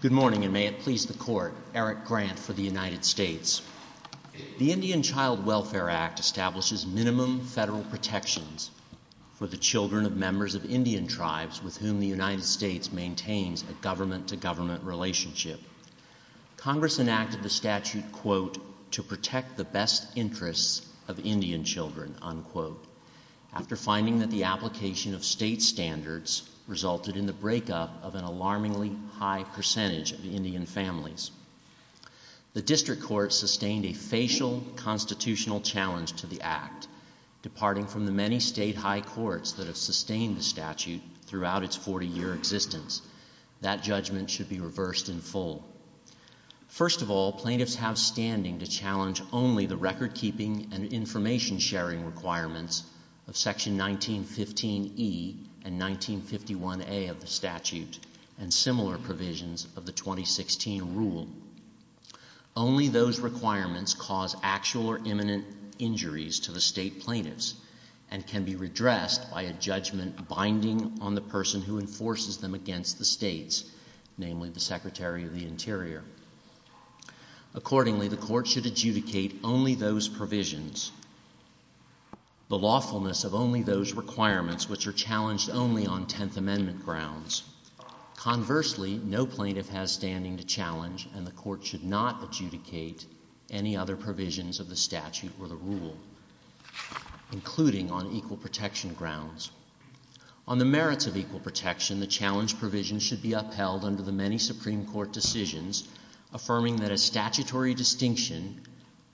Good morning, and may it please the Court, Eric Grant for the United States. The Indian Child Welfare Act establishes minimum federal protections for the children of members of Indian tribes with whom the United States maintains a government-to-government relationship. Congress enacted the statute, quote, to protect the best interests of Indian children, unquote. After finding that the application of state standards resulted in the breakup of an alarmingly high percentage of Indian families, the District Court sustained a facial constitutional challenge to the act. Departing from the many state high courts that have sustained the statute throughout its 40-year existence, that judgment should be reversed in full. First of all, plaintiffs have standing to challenge only the record-keeping and information-sharing requirements of Section 1915E and 1951A of the statute and similar provisions of the 2016 rule. Only those requirements cause actual or imminent injuries to the state plaintiffs and can be redressed by a judgment binding on the person who enforces them against the states, namely the Secretary of the Interior. Accordingly, the court should adjudicate only those provisions, the lawfulness of only those requirements which are challenged only on Tenth Amendment grounds. Conversely, no plaintiff has standing to challenge and the court should not adjudicate any other provisions of the statute or the rule, including on equal protection grounds. On the merits of equal protection, the challenge provision should be upheld under the many Supreme Court decisions affirming that a statutory distinction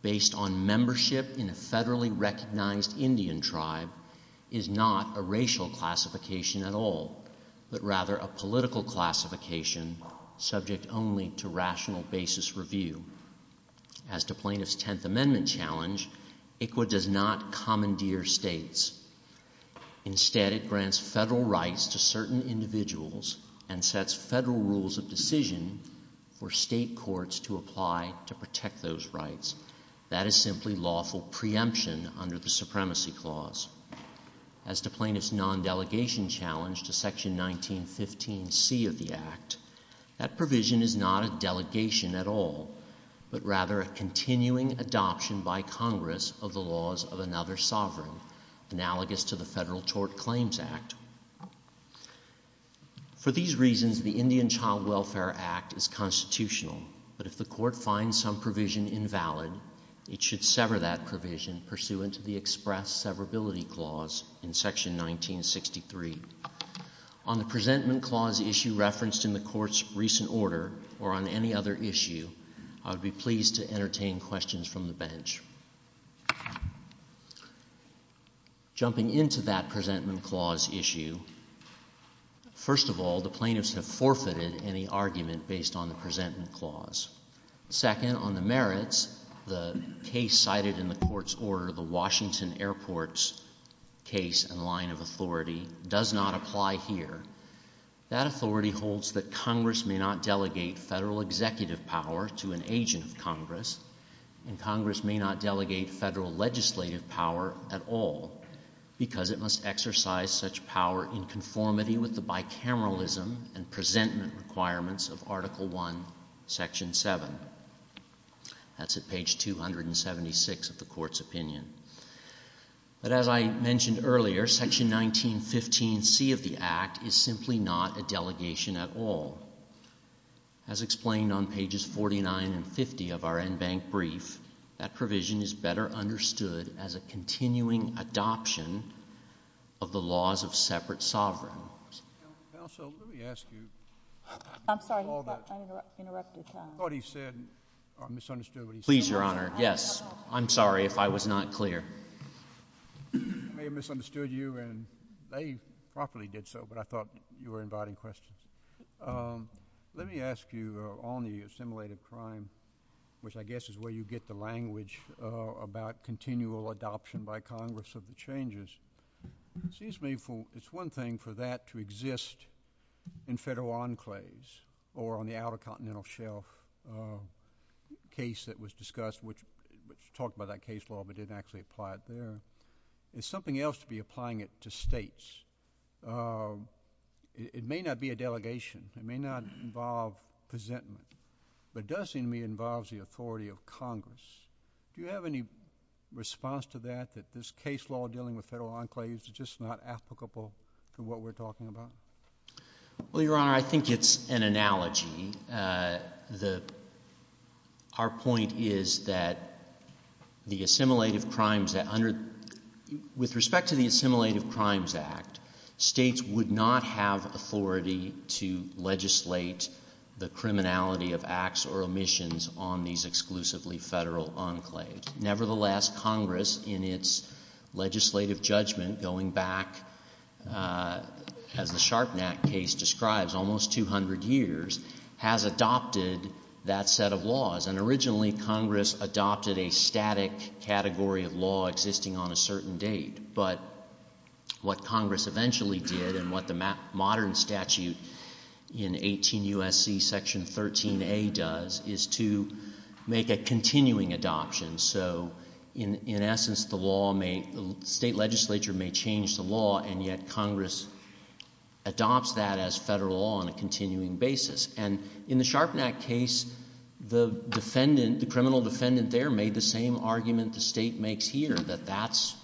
based on membership in a federally recognized Indian tribe is not a racial classification at all, but rather a political classification subject only to rational basis review. As to plaintiff's Tenth Amendment challenge, ICWA does not commandeer states. Instead, it grants federal rights to certain individuals and sets federal rules of decision for state courts to apply to protect those rights. That is simply lawful preemption under the Supremacy Clause. As to plaintiff's non-delegation challenge to Section 1915C of the Act, that provision is not a delegation at all, but rather a continuing adoption by Congress of the laws of another sovereign, analogous to the Federal Tort Claims Act. For these reasons, the Indian Child Welfare Act is constitutional, but if the court finds some provision invalid, it should sever that provision pursuant to the Express Severability Clause in Section 1963. On the Presentment Clause issue referenced in the court's recent order or on any other issue, I would be pleased to entertain questions from the bench. Jumping into that Presentment Clause issue, first of all, the plaintiffs have forfeited any argument based on the Presentment Clause. Second, on the merits, the case cited in the court's order, the Washington Airport's case and line of authority does not apply here. That authority holds that Congress may not delegate federal executive power to an agent of Congress, and Congress may not delegate federal legislative power at all because it must exercise such power in conformity with the bicameralism and presentment requirements of Article I, Section 7. That's at page 276 of the court's opinion. But as I mentioned earlier, Section 1915C of the Act is simply not a delegation at all. As explained on pages 49 and 50 of our en banc brief, that provision is better understood as a continuing adoption of the laws of separate sovereigns. Counsel, let me ask you. I'm sorry, I interrupted you. I thought he said, I misunderstood what he said. Please, Your Honor, yes. I'm sorry if I was not clear. I may have misunderstood you, and they probably did so, but I thought you were inviting questions. Let me ask you on the assimilated crime, which I guess is where you get the language about continual adoption by Congress of the changes. Excuse me, it's one thing for that to exist in federal enclaves or on the outer continental shelf case that was discussed, which talked about that case law but didn't actually apply it there. It's something else to be applying it to states. It may not be a delegation. It may not involve presentment, but does, in me, involve the authority of Congress. Do you have any response to that, that this case law dealing with federal enclaves is just not applicable to what we're talking about? Well, Your Honor, I think it's an analogy. The, our point is that the assimilated crimes that under, with respect to the Assimilated Crimes Act, states would not have authority to legislate the criminality of acts or omissions on these exclusively federal enclaves. Nevertheless, Congress, in its legislative judgment, going back, as the Sharpnack case describes, almost 200 years, has adopted that set of laws. And originally, Congress adopted a static category of law existing on a certain date. But what Congress eventually did, and what the modern statute in 18 U.S.C. Section 13A does, is to make a continuing adoption. So, in essence, the law may, the state legislature may change the law, and yet Congress adopts that as federal law on a continuing basis. And in the Sharpnack case, the defendant, the criminal defendant there, made the same argument the state makes here, that that's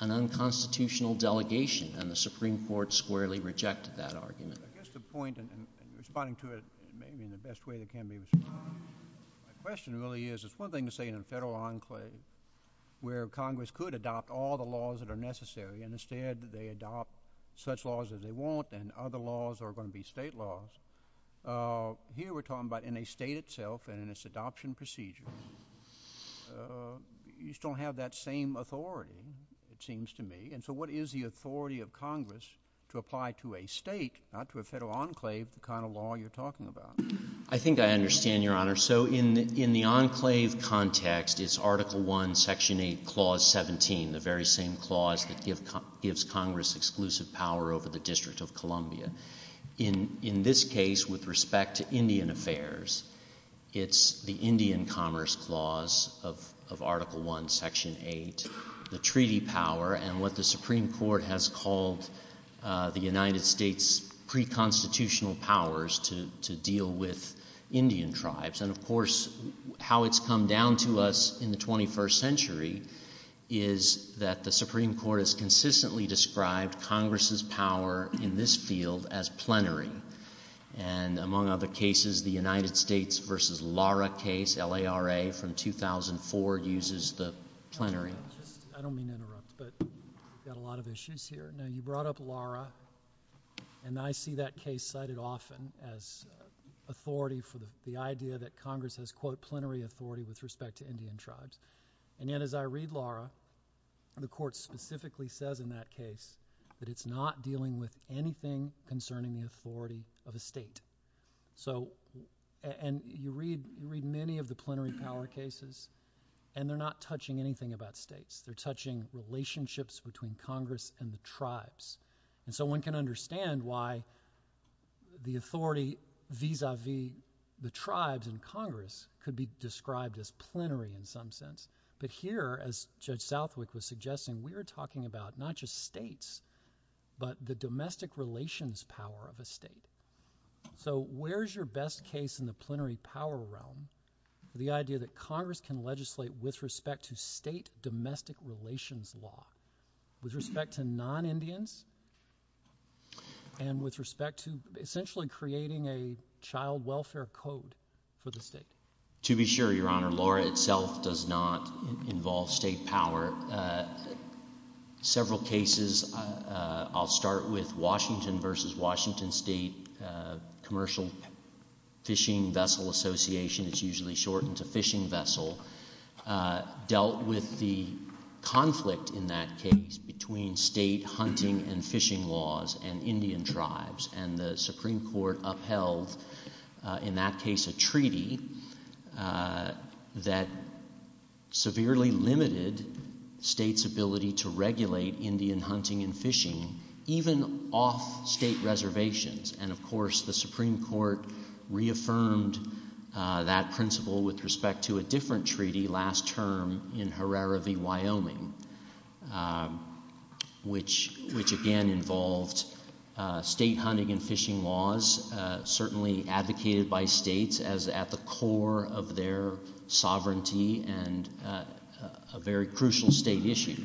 an unconstitutional delegation. And the Supreme Court squarely rejected that argument. I guess the point, and responding to it in the best way that can be, the question really is, it's one thing to say in a federal enclave, where Congress could adopt all the laws that are necessary, and instead they adopt such laws that they want, and other laws are going to be state laws. Here we're talking about in a state itself, and in its adoption procedure, you still have that same authority, it seems to me. And so what is the authority of Congress to apply to a state, not to a federal enclave, the kind of law you're talking about? I think I understand, Your Honor. So, in the enclave context, it's Article I, Section 8, Clause 17, the very same clause that gives Congress exclusive power over the District of Columbia. In this case, with respect to Indian affairs, it's the Indian Commerce Clause of Article I, Section 8, the treaty power, and what the Supreme Court has called the United States pre-constitutional powers to deal with Indian tribes. And of course, how it's come down to us in the 21st century is that the Supreme Court has consistently described Congress' power in this field as plenary, and among other cases, the United States versus Lara case, L-A-R-A, from 2004, uses the plenary. I don't mean to interrupt, but we've got a lot of issues here. Now, you brought up Lara, and I see that case cited often as authority for the idea that Congress has, quote, plenary authority with respect to Indian tribes. And yet, as I read Lara, the court specifically says in that case that it's not dealing with anything concerning the authority of a state. So, and you read many of the plenary power cases, and they're not touching anything about states. They're touching relationships between Congress and the tribes. And so, one can understand why the authority vis-a-vis the tribes in Congress could be described as plenary in some sense. But here, as Judge Southwick was suggesting, we're talking about not just states, but the domestic relations power of a state. So, where's your best case in the plenary power realm? The idea that Congress can legislate with respect to state domestic relations law, with respect to non-Indians, and with respect to essentially creating a child welfare code for the state? To be sure, Your Honor, Lara itself does not involve state power. Several cases, I'll start with Washington versus Washington State Commercial Fishing Vessel Association, it's usually shortened to Fishing Vessel, dealt with the conflict in that case between state hunting and fishing laws and Indian tribes. And the Supreme Court upheld, in that case, a treaty that severely limited states' ability to regulate Indian hunting and fishing, even off state reservations. And, of course, the Supreme Court reaffirmed that principle with respect to a different treaty last term in Herrera v. Wyoming, which, again, involved state hunting and fishing laws, certainly advocated by states as at the core of their sovereignty and a very crucial state issue.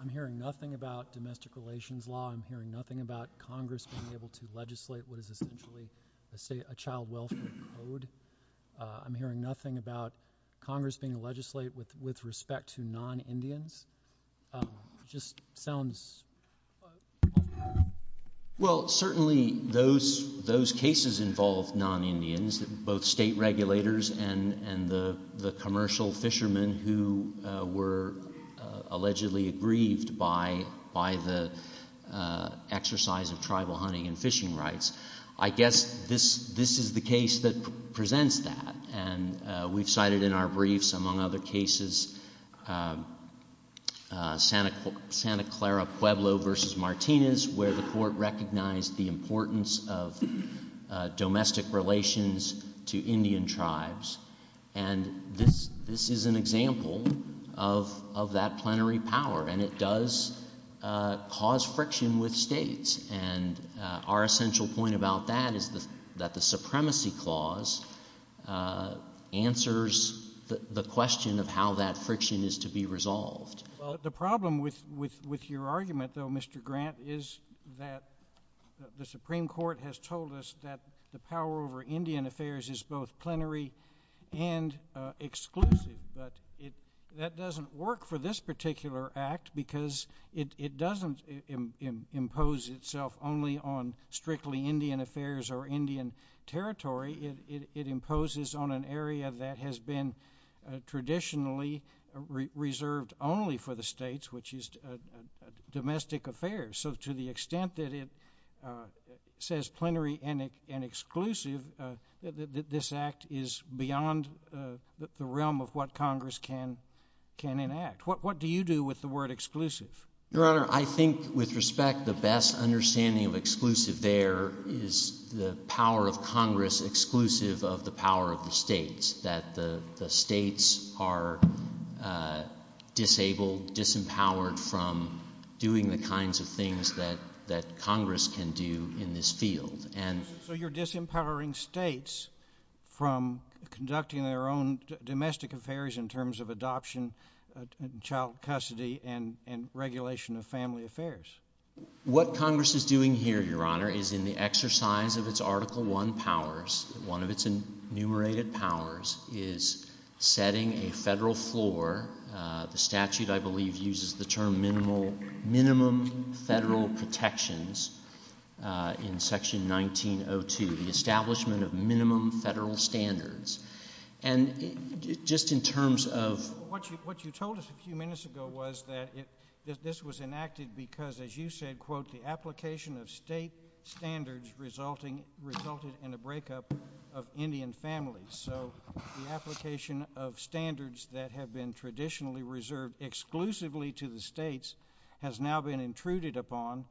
I'm hearing nothing about domestic relations law. I'm hearing nothing about Congress being able to legislate with essentially a child welfare code. I'm hearing nothing about Congress being legislate with respect to non-Indians. Just sounds... Well, certainly, those cases involve non-Indians, both state regulators and the commercial fishermen who were allegedly aggrieved by the exercise of tribal hunting and fishing rights. I guess this is the case that presents that, and we've cited in our briefs, among other cases, Santa Clara Pueblo v. Martinez, where the court recognized the importance of domestic relations to Indian tribes. And this is an example of that plenary power, and it does cause friction with states. And our essential point about that is that the supremacy clause answers the question of how that friction is to be resolved. Well, the problem with your argument, though, Mr. Grant, is that the Supreme Court has told us that the power over Indian affairs is both plenary and exclusive. But that doesn't work for this particular act because it doesn't impose itself only on strictly Indian affairs or Indian territory. It imposes on an area that has been traditionally reserved only for the states, which is domestic affairs. So to the extent that it says plenary and exclusive, this act is beyond the realm of what Congress can enact. What do you do with the word exclusive? Your Honor, I think with respect, the best understanding of exclusive there is the power of Congress exclusive of the power of the states, that the states are disabled, disempowered from doing the kinds of things that Congress can do in this field. So you're disempowering states from conducting their own domestic affairs in terms of adoption, child custody, and regulation of family affairs. What Congress is doing here, Your Honor, is in the exercise of its Article I powers, one of its enumerated powers, is setting a federal floor. The statute, I believe, uses the term minimum federal protections in Section 1902, the establishment of minimum federal standards. And just in terms of... What you told us a few minutes ago was that this was enacted because, as you said, quote, the application of state standards resulted in a breakup of Indian families. So the application of standards that have been traditionally reserved exclusively to the states has now been intruded upon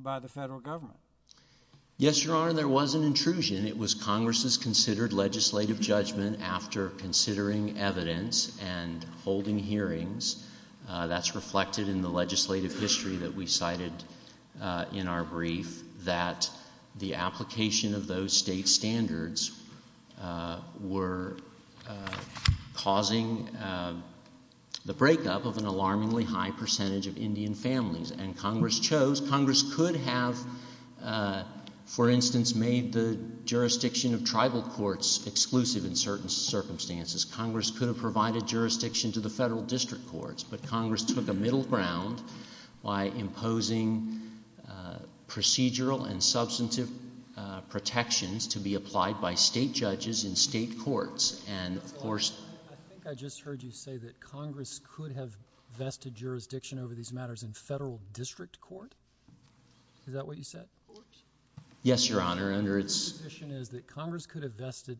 by the federal government. Yes, Your Honor, there was an intrusion. It was Congress's considered legislative judgment after considering evidence and holding hearings that's reflected in the legislative history that we cited in our brief that the application of those state standards were causing the breakup of an alarmingly high percentage of Indian families. And Congress chose, Congress could have, for instance, made the jurisdiction of tribal courts exclusive in certain circumstances. Congress could have provided jurisdiction to the federal district courts, but Congress took a middle ground by imposing procedural and substantive protections to be applied by state judges in state courts. And, of course... I think I just heard you say that Congress could have vested jurisdiction over these matters in federal district court. Is that what you said? Yes, Your Honor, under its... The position is that Congress could have vested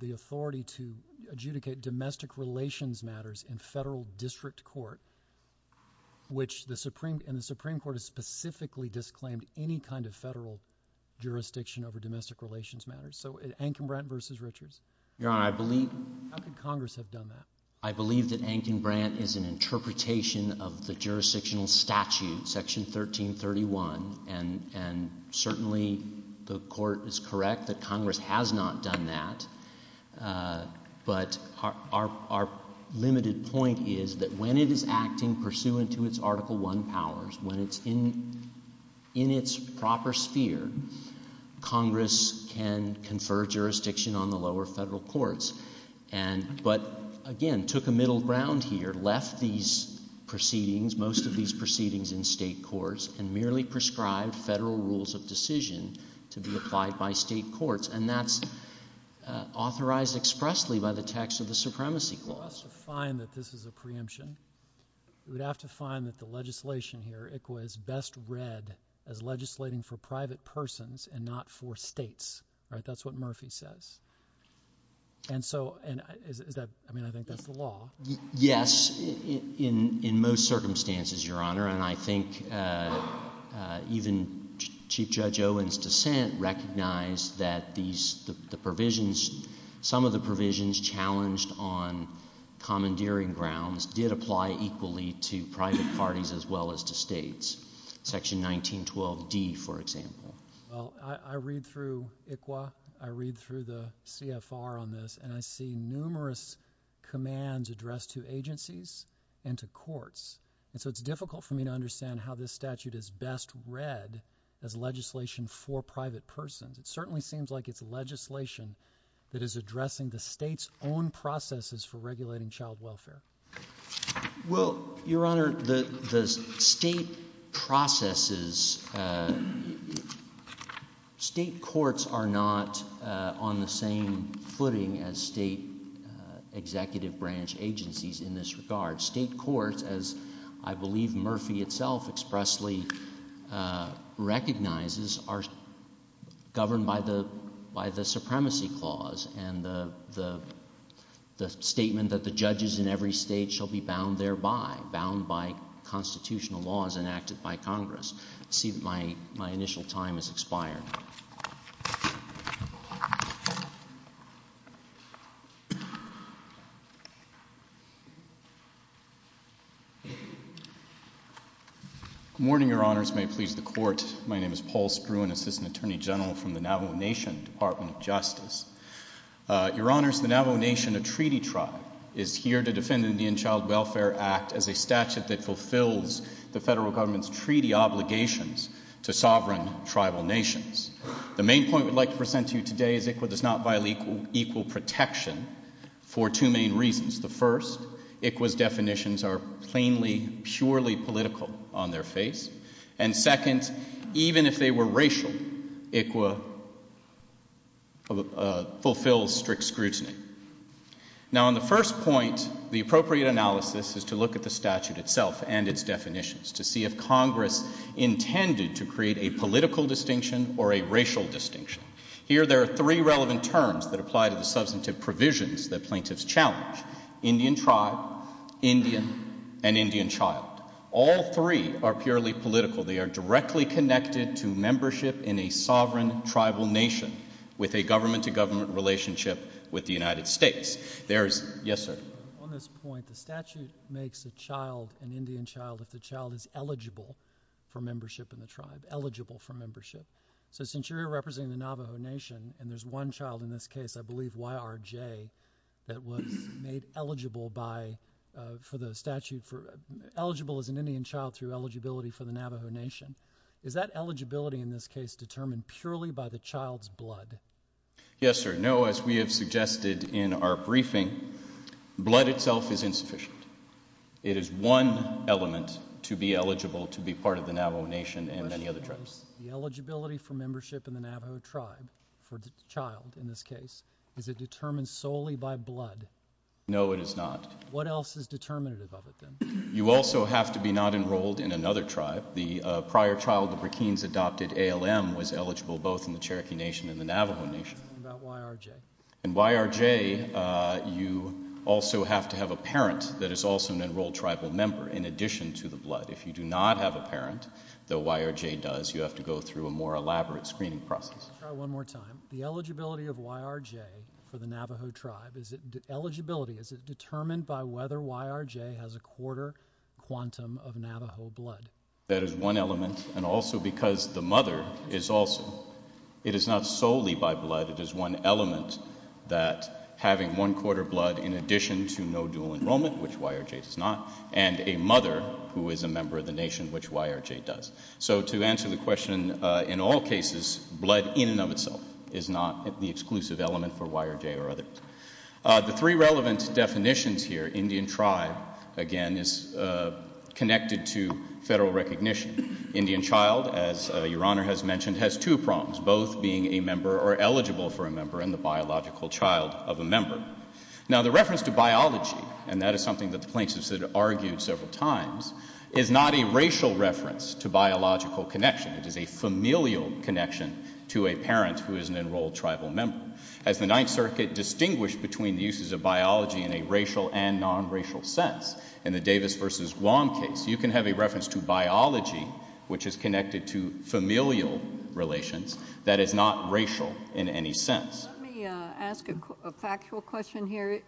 the authority to adjudicate domestic relations matters in federal district court, which the Supreme Court has specifically disclaimed any kind of federal jurisdiction over domestic relations matters. So, Ankenbrant v. Richards. Your Honor, I believe... I think Congress has done that. I believe that Ankenbrant is an interpretation of the jurisdictional statute, Section 1331. And certainly, the court is correct that Congress has not done that. But our limited point is that when it is acting pursuant to its Article I powers, when it's in its proper sphere, Congress can confer jurisdiction on the lower federal courts. And, but again, took a middle ground here, left these proceedings, in state courts, and merely prescribed federal rules of decision to be applied by state courts. And that's authorized expressly by the text of the Supremacy Clause. To find that this is a preemption, we'd have to find that the legislation here, it was best read as legislating for private persons and not for states. Right? That's what Murphy says. And so, and that, I mean, I think that's the law. Yes. In most circumstances, Your Honor. And I think even Chief Judge Owen's dissent recognized that these, the provisions, some of the provisions challenged on commandeering grounds did apply equally to private parties as well as to states. Section 1912D, for example. Well, I read through ICWA. I read through the CFR on this. And I see numerous commands addressed to agencies and to courts. And so, it's difficult for me to understand how this statute is best read as legislation for private persons. It certainly seems like it's legislation that is addressing the state's own processes for regulating child welfare. Well, Your Honor, the state processes, state courts are not on the same footing as state executive branch agencies in this regard. State courts, as I believe Murphy itself expressly recognizes, are governed by the Supremacy Clause and the statement that the judges in every state shall be bound thereby. Bound by constitutional laws enacted by Congress. I see that my initial time has expired. Thank you. Morning, Your Honors. May it please the Court. My name is Paul Spruan, Assistant Attorney General from the Navajo Nation Department of Justice. Your Honors, the Navajo Nation, a treaty tribe, is here to defend the Indian Child Welfare Act as a statute that fulfills the federal government's treaty obligations to sovereign tribal nations. The main point we'd like to present to you today is ICWA does not violate equal protection for two main reasons. The first, ICWA's definitions are plainly, surely political on their face. And second, even if they were racial, ICWA fulfills strict scrutiny. Now on the first point, the appropriate analysis is to look at the statute itself and its definitions to see if Congress intended to create a political distinction or a racial distinction. Here there are three relevant terms that apply to the substantive provisions that plaintiffs challenge, Indian tribe, Indian, and Indian child. All three are purely political. They are directly connected to membership in a sovereign tribal nation with a government to government relationship with the United States. There's, yes sir. On this point, the statute makes a child, an Indian child, that the child is eligible for membership in the tribe, eligible for membership. So since you're representing the Navajo Nation, and there's one child in this case, I believe YRJ, that was made eligible by, for the statute for, eligible as an Indian child through eligibility for the Navajo Nation. Is that eligibility in this case determined purely by the child's blood? Yes sir. No, as we have suggested in our briefing, blood itself is insufficient. It is one element to be eligible to be part of the Navajo Nation and many other tribes. The eligibility for membership in the Navajo tribe, for the child in this case, is it determined solely by blood? No, it is not. What else is determinative of it then? You also have to be not enrolled in another tribe. The prior child of Rakeem's adopted ALM was eligible both in the Cherokee Nation and the Navajo Nation. What about YRJ? In YRJ, you also have to have a parent that is also an enrolled tribal member, in addition to the blood. If you do not have a parent, though YRJ does, you have to go through a more elaborate screening process. I'll try one more time. The eligibility of YRJ for the Navajo tribe, is it, eligibility, is it determined by whether YRJ has a quarter quantum of Navajo blood? That is one element. And also because the mother is also, it is not solely by blood, it is one element that having one quarter blood in addition to no dual enrollment, which YRJ does not, and a mother who is a member of the nation, which YRJ does. So to answer the question, in all cases, blood in and of itself is not the exclusive element for YRJ or others. The three relevant definitions here, Indian tribe, again, is connected to federal recognition. Indian child, as Your Honor has mentioned, has two prongs, both being a member or eligible for a member, and the biological child of a member. Now the reference to biology, and that is something that the plaintiffs have argued several times, is not a racial reference to biological connection. It is a familial connection to a parent who is an enrolled tribal member. As the Ninth Circuit distinguished between the uses of biology in a racial and non-racial sense, in the Davis versus Wong case, you can have a reference to biology, which is connected to familial relations, that is not racial in any sense. Let me ask a factual question here.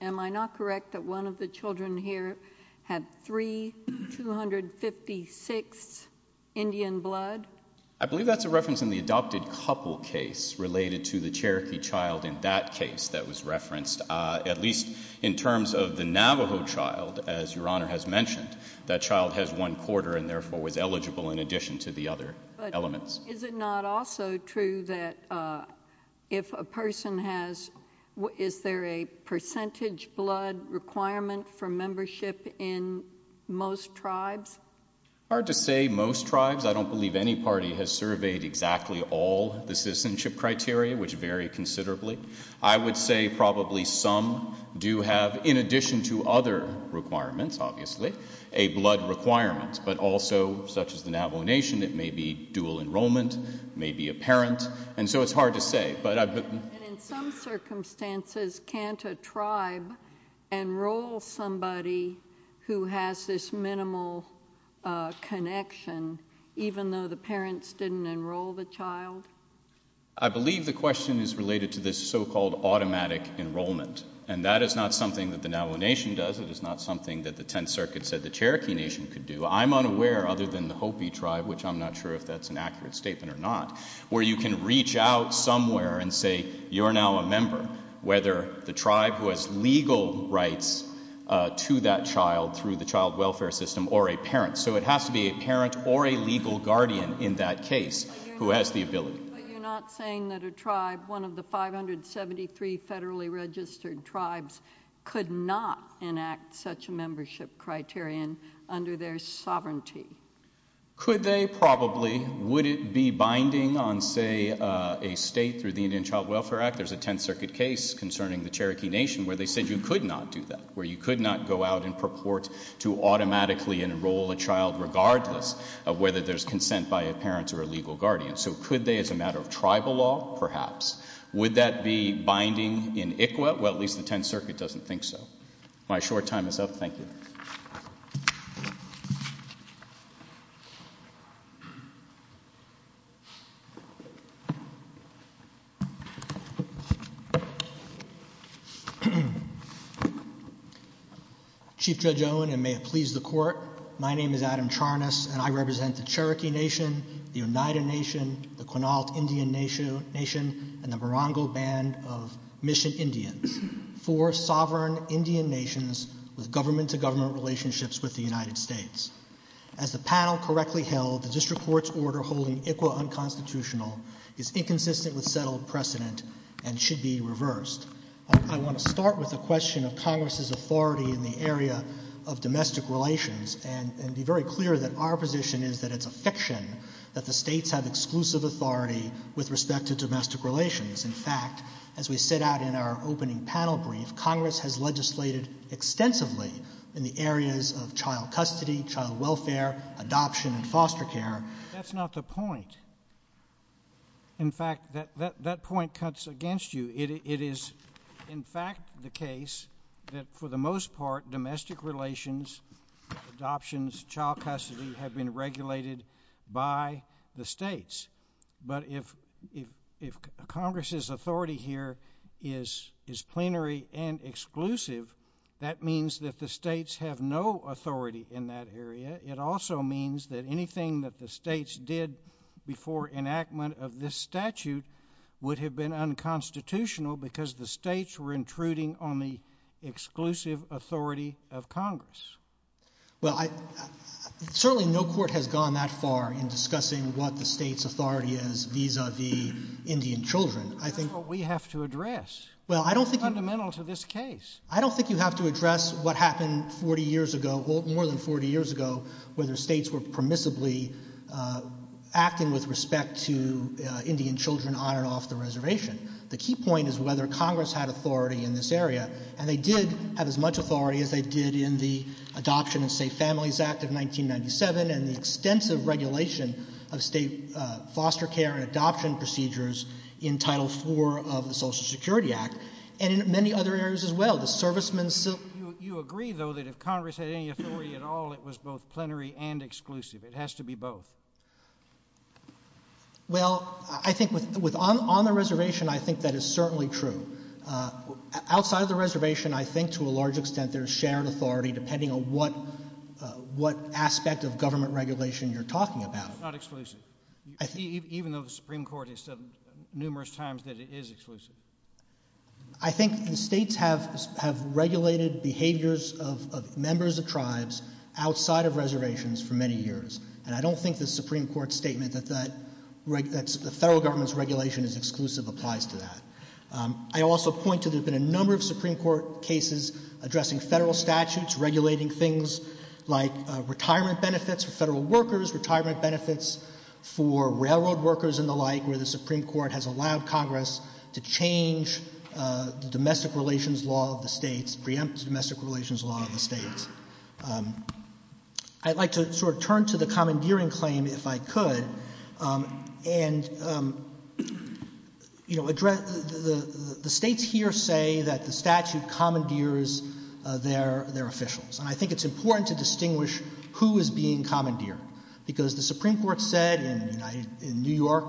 Am I not correct that one of the children here had 3, 256 Indian blood? I believe that's a reference in the adopted couple case related to the Cherokee child in that case that was referenced, at least in terms of the Navajo child, as Your Honor has mentioned. That child has one quarter and therefore was eligible in addition to the other elements. But is it not also true that if a person has, is there a percentage blood requirement for membership in most tribes? Hard to say. Most tribes, I don't believe any party has surveyed exactly all the citizenship criteria, which vary considerably. I would say probably some do have, in addition to other requirements, obviously, a blood requirement, but also, such as the Navajo Nation, it may be dual enrollment, it may be a parent. And so it's hard to say. But I've been... In some circumstances, can't a tribe enroll somebody who has this minimal connection, even though the parents didn't enroll the child? I believe the question is related to this so-called automatic enrollment. And that is not something that the Navajo Nation does. It is not something that the Tenth Circuit said the Cherokee Nation could do. I'm unaware, other than the Hopi tribe, which I'm not sure if that's an accurate statement or not, where you can reach out somewhere and say, you're now a member, whether the tribe was legal rights to that child through the child welfare system or a parent. So it has to be a parent or a legal guardian in that case who has the ability. But you're not saying that a tribe, one of the 573 federally registered tribes, could not enact such a membership criterion under their sovereignty? Could they? Probably. Would it be binding on, say, a state through the Indian Child Welfare Act? There's a Tenth Circuit case concerning the Cherokee Nation where they said you could not do that, where you could not go out and purport to automatically enroll a child regardless of whether there's consent by a parent or a legal guardian. So could they as a matter of tribal law? Perhaps. Would that be binding in ICWA? Well, at least the Tenth Circuit doesn't think so. My short time is up. Thank you. Chief Judge Owen, and may it please the Court, my name is Adam Charnas, and I represent the Cherokee Nation, the Oneida Nation, the Quinault Indian Nation, and the Morongo Band of Mission Indian, four sovereign Indian nations with government to government relationships with the United States. As the panel correctly held, the district court's order holding ICWA unconstitutional is inconsistent with settled precedent and should be reversed. I want to start with the question of Congress's authority in the area of domestic relations and be very clear that our position is that it's a fiction that the states have exclusive authority with respect to domestic relations. In fact, as we set out in our opening panel brief, Congress has legislated extensively in the areas of child custody, child welfare, adoption, and foster care. That's not the point. In fact, that point cuts against you. It is, in fact, the case that for the most part, domestic relations, adoptions, child custody have been regulated by the states. But if Congress's authority here is plenary and exclusive, that means that the states have no authority in that area. It also means that anything that the states did before enactment of this statute would have been unconstitutional because the states were intruding on the exclusive authority of Congress. Well, I, certainly no court has gone that far in discussing what the state's authority is vis-a-vis Indian children. I think. But we have to address. Well, I don't think. Fundamental to this case. I don't think you have to address what happened 40 years ago, more than 40 years ago, where the states were permissibly acting with respect to Indian children on and off the reservation. The key point is whether Congress had authority in this area. And they did have as much authority as they did in the Adoption and Safe Families Act of 1997 and the extensive regulation of state foster care and adoption procedures in Title IV of the Social Security Act and in many other areas as well. The servicemen still. You agree, though, that if Congress had any authority at all, it was both plenary and exclusive. It has to be both. Well, I think with, on the reservation, I think that is certainly true. Outside of the reservation, I think to a large extent there's shared authority depending on what aspect of government regulation you're talking about. Not exclusive. Even though the Supreme Court has said numerous times that it is exclusive. I think the states have regulated behaviors of members of tribes outside of reservations for many years. And I don't think the Supreme Court's statement that the federal government's regulation is exclusive applies to that. I also point to there's been a number of Supreme Court cases addressing federal statutes, regulating things like retirement benefits for federal workers, retirement benefits for railroad workers and the like, where the Supreme Court has allowed Congress to change the domestic relations law of the states, preempt domestic relations law of the states. I'd like to sort of turn to the commandeering claim if I could. And, you know, the states here say that the statute commandeers their officials. And I think it's important to distinguish who is being commandeered. Because the Supreme Court said in New York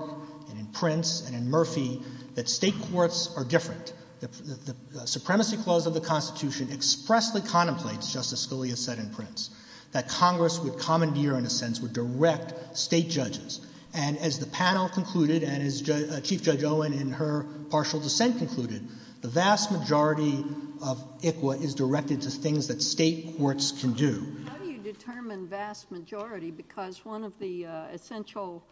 and in Prince and in Murphy that state courts are different. The Supremacy Clause of the Constitution expressly contemplates, Justice Scalia said in Prince, that Congress would commandeer in a sense would direct state judges. And as the panel concluded and as Chief Judge Owen in her partial dissent concluded, the vast majority of ICWA is directed to things that state courts can do. How do you determine vast majority? Because one of the essential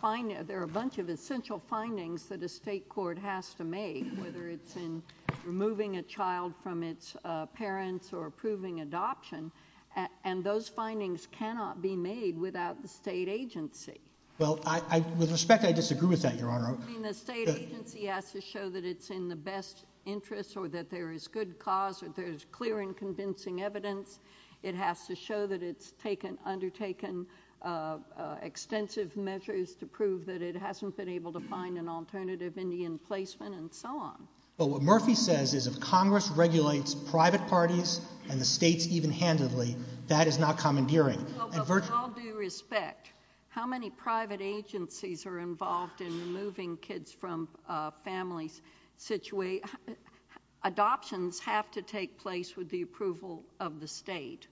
findings, there are a bunch of essential findings that a state court has to make, whether it's in removing a child from its parents or approving adoption, and those findings cannot be made without the state agency. Well, I, with respect, I disagree with that, Your Honor. I mean, the state agency has to show that it's in the best interest or that there is good cause or there is clear and convincing evidence. It has to show that it's taken, undertaken extensive measures to prove that it hasn't been able to find an alternative Indian placement and so on. But what Murphy says is if Congress regulates private parties and the states even handedly, that is not commandeering. With all due respect, how many private agencies are involved in removing kids from families? Adoptions have to take place with the approval of the state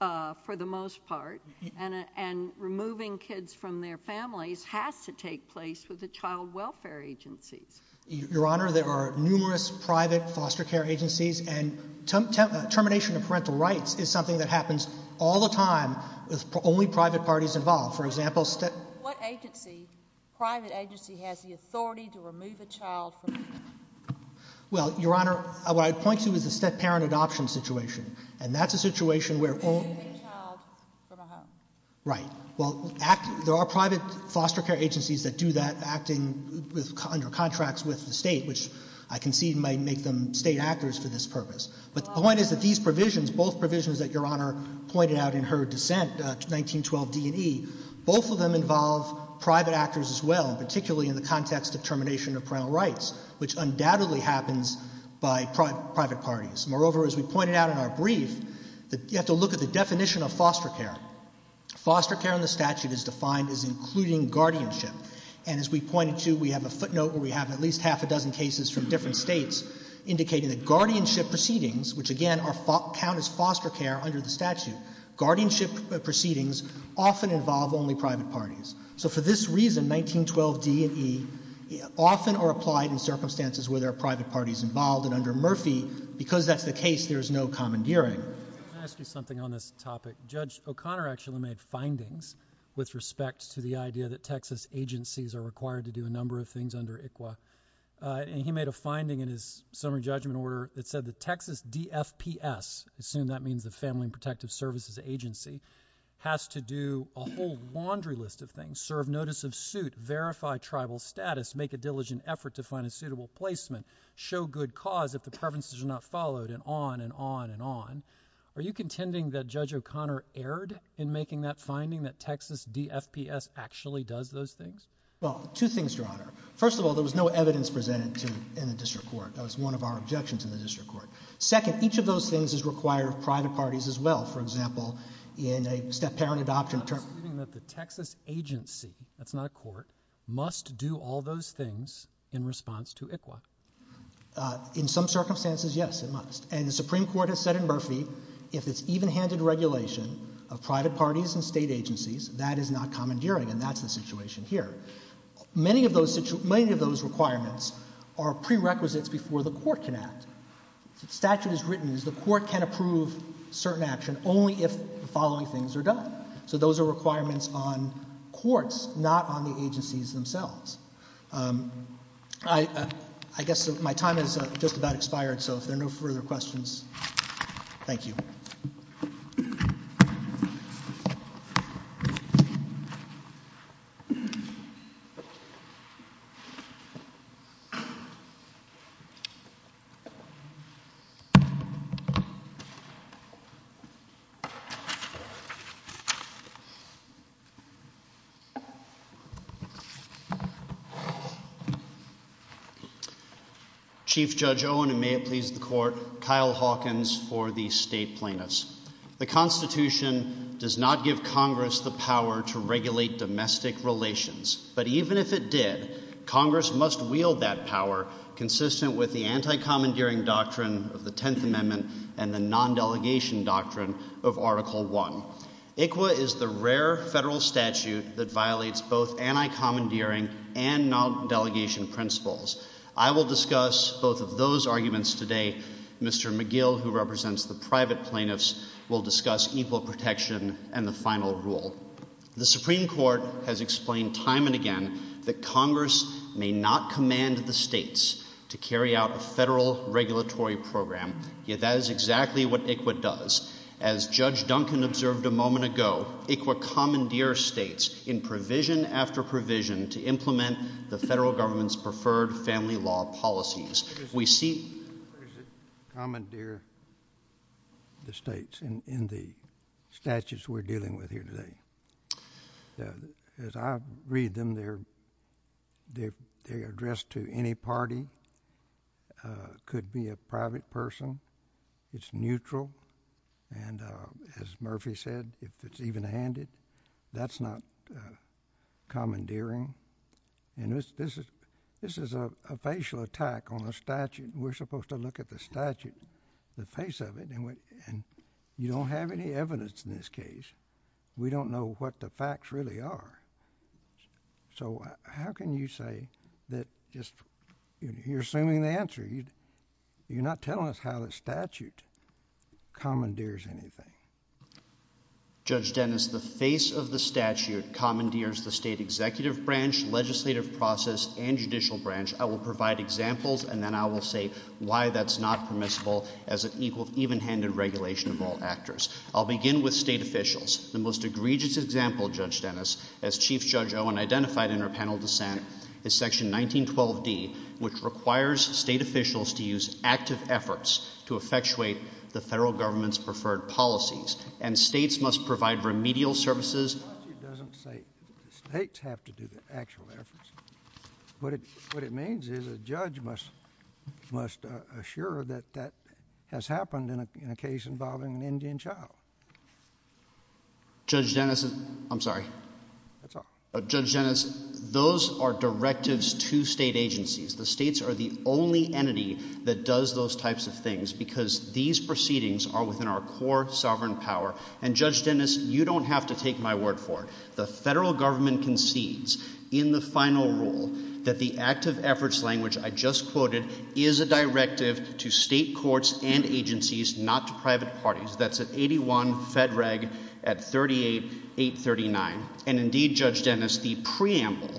for the most part. And removing kids from their families has to take place with the child welfare agencies. Your Honor, there are numerous private foster care agencies and termination of parental rights is something that happens all the time with only private parties involved. For example, state... But what agency, private agency, has the authority to remove a child from a home? Well, Your Honor, what I point to is the set parent adoption situation. And that's a situation where only... ...remove a child from a home. Right. Well, there are private foster care agencies that do that acting under contracts with the state, which I concede might make them state actors for this purpose. But the point is that these provisions, both provisions that Your Honor pointed out in her dissent, 1912 D&E, both of them involve private actors as well, particularly in the context of termination of parental rights, which undoubtedly happens by private parties. Moreover, as we pointed out in our brief, you have to look at the definition of foster care. Foster care in the statute is defined as including guardianship. And as we pointed to, we have a footnote where we have at least half a dozen cases from different states indicating that guardianship proceedings, which again, count as foster care under the statute. Guardianship proceedings often involve only private parties. So for this reason, 1912 D&E often are applied in circumstances where there are private parties involved. And under Murphy, because that's the case, there's no commandeering. Let me ask you something on this topic. Judge O'Connor actually made findings with respect to the idea that Texas agencies are required to do a number of things under ICWA. And he made a finding in his summary judgment order that said that Texas DFPS, assume that means the Family and Protective Services Agency, has to do a whole laundry list of things, serve notice of suit, verify tribal status, make a diligent effort to find a suitable placement, show good cause if the preferences are not followed, and on and on and on. Are you contending that Judge O'Connor erred in making that finding that Texas DFPS actually does those things? Well, two things, John. First of all, there was no evidence presented in the district court. That was one of our objections in the district court. Second, each of those things is required of private parties as well. For example, in a step-parent adoption of terms, the Texas agency, that's not a court, must do all those things in response to ICWA. In some circumstances, yes, it must. And the Supreme Court has said in Murphy, if it's even-handed regulation of private parties and state agencies, that is not commandeering. And that's the situation here. Many of those requirements are prerequisites before the court can act. The statute is written as the court can approve certain action only if the following things are done. So those are requirements on courts, not on the agencies themselves. I guess my time has just about expired, so if there are no further questions, thank you. Thank you. Chief Judge Owen, and may it please the court, Kyle Hawkins for the State Plaintiffs. The Constitution does not give Congress the power to regulate domestic relations, but even if it did, Congress must wield that power consistent with the anti-commandeering doctrine of the Tenth Amendment and the non-delegation doctrine of Article I. ICWA is the rare federal statute that violates both anti-commandeering and non-delegation principles. I will discuss both of those arguments today. Mr. McGill, who represents the private plaintiffs, will discuss equal protection and the final rule. The Supreme Court has explained time and again that Congress may not command the states to carry out a federal regulatory program, yet that is exactly what ICWA does. As Judge Duncan observed a moment ago, ICWA commandeers states in provision after provision to implement the federal government's preferred family law policies. We see... ...commandeer the states in the statutes we're dealing with here today. As I read them, they're addressed to any party, could be a private person, it's neutral, and as Murphy said, if it's even-handed, that's not commandeering. And this is a facial attack on the statute. We're supposed to look at the statute, the face of it, and you don't have any evidence in this case. We don't know what the facts really are. So how can you say that just... You're assuming the answer. You're not telling us how the statute commandeers anything. Judge Dennis, the face of the statute commandeers the state executive branch, legislative process, and judicial branch. I will provide examples, and then I will say why that's not permissible as an equal, even-handed regulation of all actors. I'll begin with state officials. The most egregious example, Judge Dennis, as Chief Judge Owen identified in her panel of dissent, is section 1912D, which requires state officials to use active efforts to effectuate the federal government's preferred policies, and states must provide remedial services... The statute doesn't say states have to do the actual efforts. What it means is a judge must assure that that has happened in a case involving an Indian child. Judge Dennis... I'm sorry. That's all. Judge Dennis, those are directives to state agencies. The states are the only entity that does those types of things, because these proceedings are within our core sovereign power. And Judge Dennis, you don't have to take my word for it. The federal government concedes in the final rule that the active efforts language I just quoted is a directive to state courts and agencies, not to private parties. That's at 81 FEDREG at 38839. And indeed, Judge Dennis, the preamble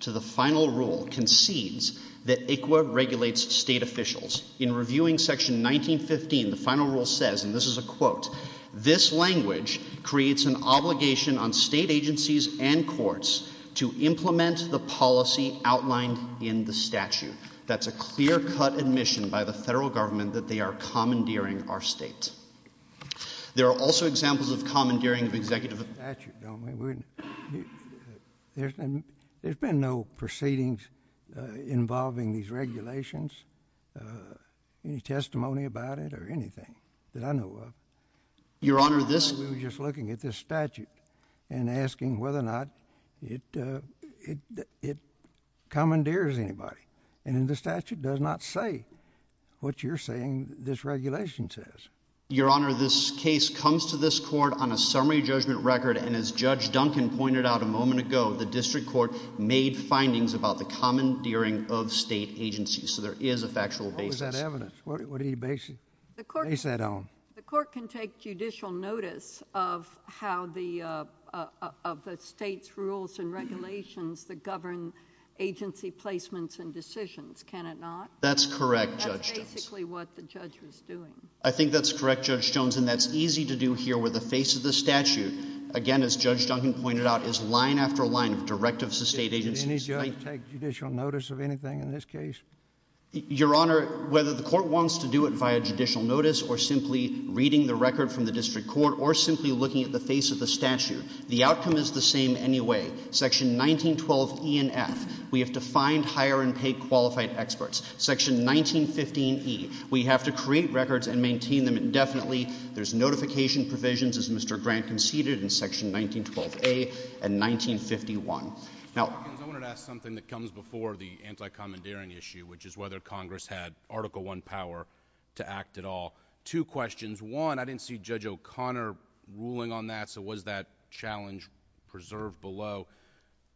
to the final rule concedes that ICWA regulates state officials. In reviewing section 1915, the final rule says, and this is a quote, this language creates an obligation on state agencies and courts to implement the policy outlined in the statute. That's a clear-cut admission by the federal government that they are commandeering our state. There are also examples of commandeering of executive... There's been no proceedings involving these regulations, any testimony about it or anything that I know of. Your Honor, this... We were just looking at this statute and asking whether or not it commandeers anybody. And the statute does not say what you're saying this regulation says. Your Honor, this case comes to this court on a summary judgment record, and as Judge Duncan pointed out a moment ago, the district court made findings about the commandeering of state agencies. So there is a factual basis. What was that evidence? What did he base that on? The court can take judicial notice of how the state's rules and regulations that govern agency placements and decisions, can it not? That's correct, Judge Jones. That's basically what the judge was doing. I think that's correct, Judge Jones, and that's easy to do here with the face of the statute. Again, as Judge Duncan pointed out, it's line after line, directives of state agencies... Does any judge take judicial notice of anything in this case? Your Honor, whether the court wants to do it by a judicial notice or simply reading the record from the district court or simply looking at the face of the statute, the outcome is the same anyway. Section 1912 E and F, we have to find, hire, and pay qualified experts. Section 1915 E, we have to create records and maintain them indefinitely. There's notification provisions, as Mr. Grant conceded, in Section 1912 A and 1951. Now... I wanted to ask something that comes before the anti-commandeering issue, which is whether Congress had Article I power to act at all. Two questions. One, I didn't see Judge O'Connor ruling on that, so was that challenge preserved below?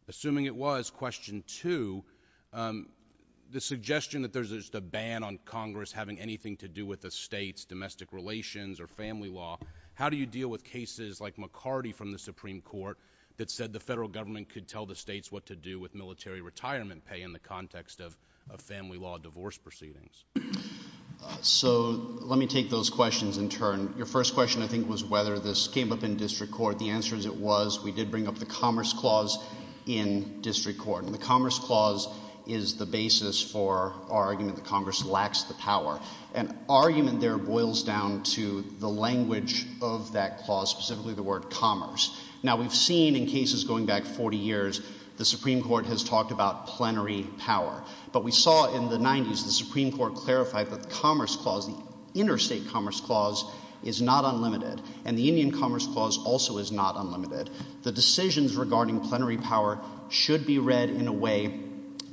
Assuming it was, question two, the suggestion that there's just a ban on Congress having anything to do with the state's domestic relations or family law, how do you deal with cases like McCarty from the Supreme Court that said the federal government could tell the states what to do with military retirement pay in the context of a family law divorce proceedings? So let me take those questions in turn. Your first question, I think, was whether this came up in district court. The answer is it was. We did bring up the Commerce Clause in district court. And the Commerce Clause is the basis for arguing that Congress lacks the power. An argument there boils down to the language of that clause, specifically the word commerce. Now we've seen in cases going back 40 years, the Supreme Court has talked about plenary power. But we saw in the 90s, the Supreme Court clarified that the Commerce Clause, the interstate commerce clause, is not unlimited. And the Indian Commerce Clause also is not unlimited. The decisions regarding plenary power should be read in a way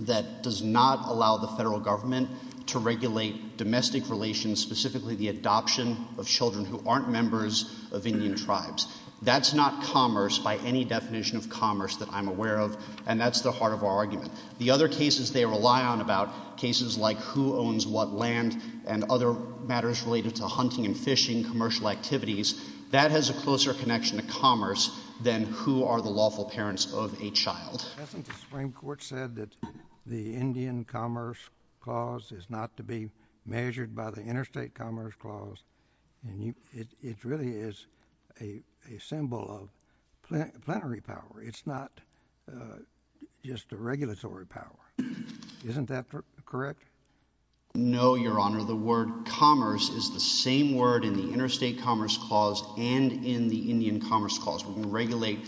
that does not allow the federal government to regulate domestic relations, specifically the adoption of children who aren't members of Indian tribes. That's not commerce by any definition of commerce that I'm aware of. And that's the heart of our argument. The other cases they rely on about, cases like who owns what land and other matters related to hunting and fishing, commercial activities. That has a closer connection to commerce than who are the lawful parents of a child. I think the Supreme Court said that the Indian Commerce Clause is not to be measured by the interstate commerce clause. And it really is a symbol of plenary power. It's not just a regulatory power. Isn't that correct? No, Your Honor. The word commerce is the same word in the interstate commerce clause and in the Indian Commerce Clause. We regulate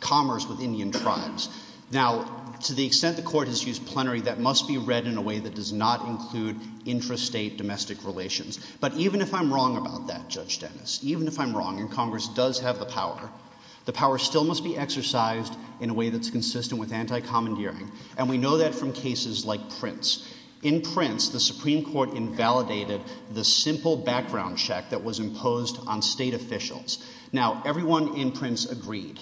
commerce with Indian tribes. Now, to the extent the Court has used plenary, that must be read in a way that does not include intrastate domestic relations. But even if I'm wrong about that, Judge Dennis, even if I'm wrong and commerce does have the power, the power still must be exercised in a way that's consistent with anti-commandeering. And we know that from cases like Prince. In Prince, the Supreme Court invalidated the simple background check that was imposed on state officials. Now, everyone in Prince agreed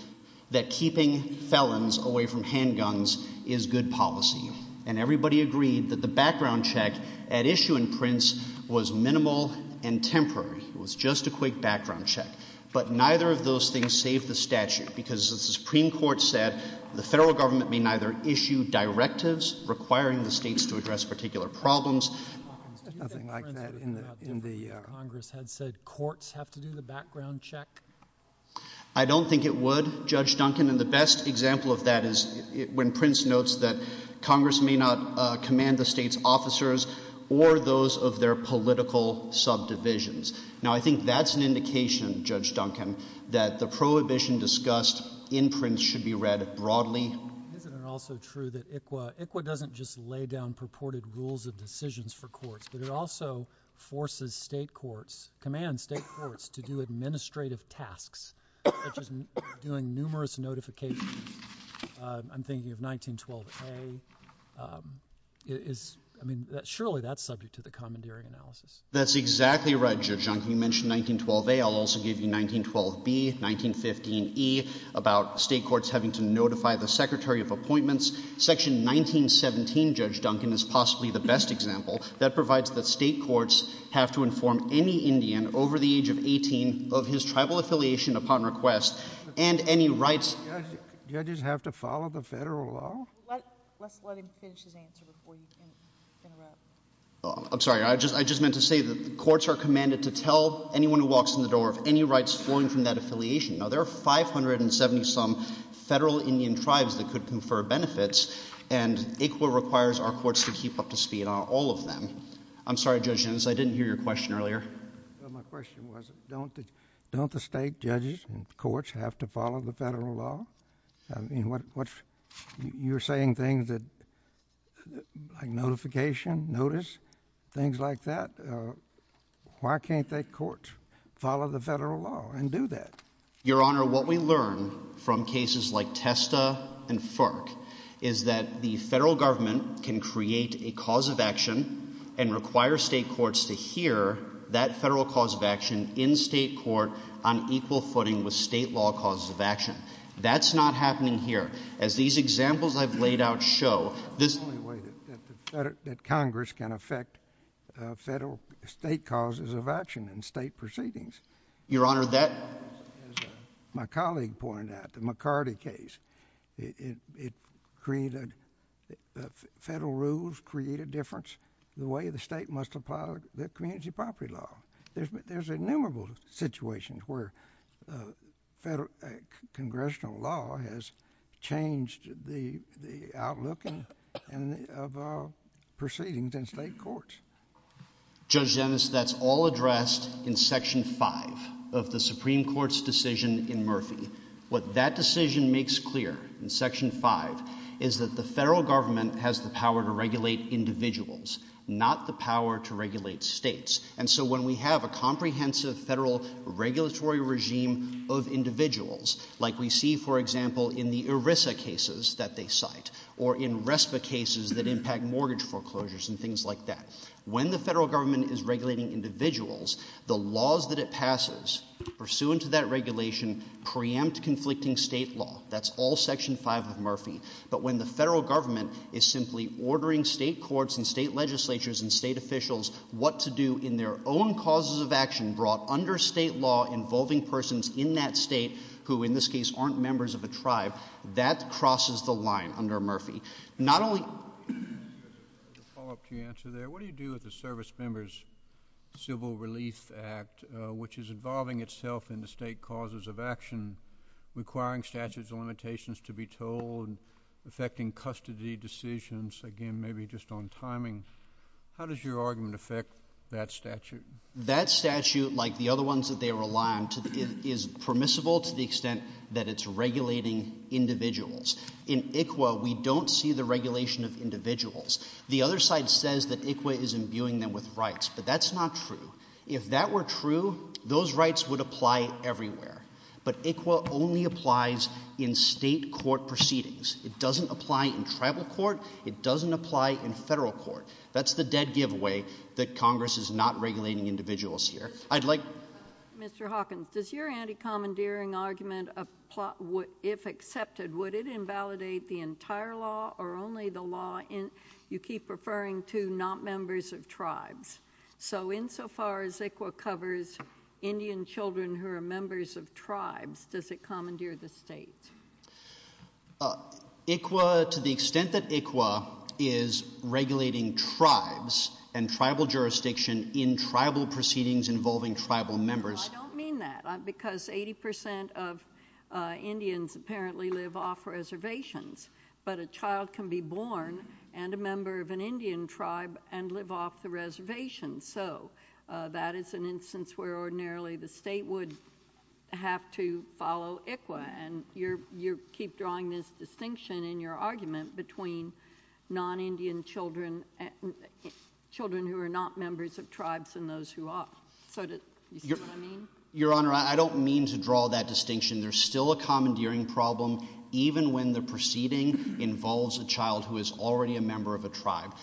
that keeping felons away from handguns is good policy. And everybody agreed that the background check at issue in Prince was minimal and temporary. It was just a quick background check. But neither of those things saved the statute because the Supreme Court said the federal government may neither issue directives requiring the states to address particular problems... Nothing like that in the Congress had said courts have to do the background check? I don't think it would, Judge Duncan. And the best example of that is when Prince notes that Congress may not command the state's officers or those of their political subdivisions. Now, I think that's an indication, Judge Duncan, that the prohibition discussed in Prince should be read broadly. Isn't it also true that ICWA doesn't just lay down purported rules of decisions for courts, but it also forces state courts, commands state courts to do administrative tasks, which is doing numerous notifications. I'm thinking of 1912A. I mean, surely that's subject to the commandeering analysis. That's exactly right, Judge Duncan. You mentioned 1912A. I'll also give you 1912B, 1915E, about state courts having to notify the Secretary of Appointments. Section 1917, Judge Duncan, is possibly the best example. That provides that state courts have to inform any Indian over the age of 18 of his tribal affiliation upon request, and any rights... Judges have to follow the federal law? Let him finish his answer before you can let him... I'm sorry. I just meant to say that courts are commanded to tell anyone who walks in the door of any rights foreign from that affiliation. Now, there are 570-some federal Indian tribes that could confer benefits, and ICWA requires our courts to keep up to speed on all of them. I'm sorry, Judge Jones. I didn't hear your question earlier. My question was, don't the state judges and courts have to follow the federal law? I mean, you're saying things like notification, notice, things like that. Why can't the courts follow the federal law and do that? Your Honor, what we learn from cases like Testa and Farrk is that the federal government can create a cause of action and require state courts to hear that federal cause of action in state court on equal footing with state law cause of action. That's not happening here. As these examples I've laid out show, this is the only way that Congress can affect federal state causes of action in state proceedings. Your Honor, that... As my colleague pointed out, the McCarty case, it created... Federal rules create a difference in the way the state must apply the community property law. There's innumerable situations where congressional law has changed the outlook of proceedings in state courts. Judge Dennis, that's all addressed in Section 5 of the Supreme Court's decision in Murphy. What that decision makes clear in Section 5 is that the federal government has the power to regulate individuals, not the power to regulate states. So when we have a comprehensive federal regulatory regime of individuals, like we see, for example, in the ERISA cases that they cite or in RESPA cases that impact mortgage foreclosures and things like that, when the federal government is regulating individuals, the laws that it passes pursuant to that regulation preempt conflicting state law. That's all Section 5 of Murphy. But when the federal government is simply ordering state courts and state legislatures and state officials what to do in their own causes of action brought under state law involving persons in that state who, in this case, aren't members of a tribe, that crosses the line under Murphy. Not only... Just a follow-up to your answer there. What do you do with the Service Members Civil Release Act, which is involving itself in the state causes of action, requiring statutes of limitations to be told, affecting custody decisions? Again, maybe just on timing, how does your argument affect that statute? That statute, like the other ones that they rely on, is permissible to the extent that it's regulating individuals. In ICWA, we don't see the regulation of individuals. The other side says that ICWA is imbuing them with rights, but that's not true. If that were true, those rights would apply everywhere. But ICWA only applies in state court proceedings. It doesn't apply in tribal court. It doesn't apply in federal court. That's the dead giveaway that Congress is not regulating individuals here. I'd like... Mr. Hawkins, does your anti-commandeering argument, if accepted, would it invalidate the entire law or only the law you keep referring to, not members of tribes? So insofar as ICWA covers Indian children who are members of tribes, does it commandeer the state? ICWA, to the extent that ICWA is regulating tribes and tribal jurisdiction in tribal proceedings involving tribal members... I don't mean that, because 80% of Indians apparently live off reservations. But a child can be born and a member of an Indian tribe and live off the reservation. So that is an instance where ordinarily the state would have to follow ICWA. And you keep drawing this distinction in your argument between non-Indian children and children who are not members of tribes and those who are. So do you see what I mean? Your Honor, I don't mean to draw that distinction. There's still a commandeering problem, even when the proceeding involves a child who is already a member of a tribe.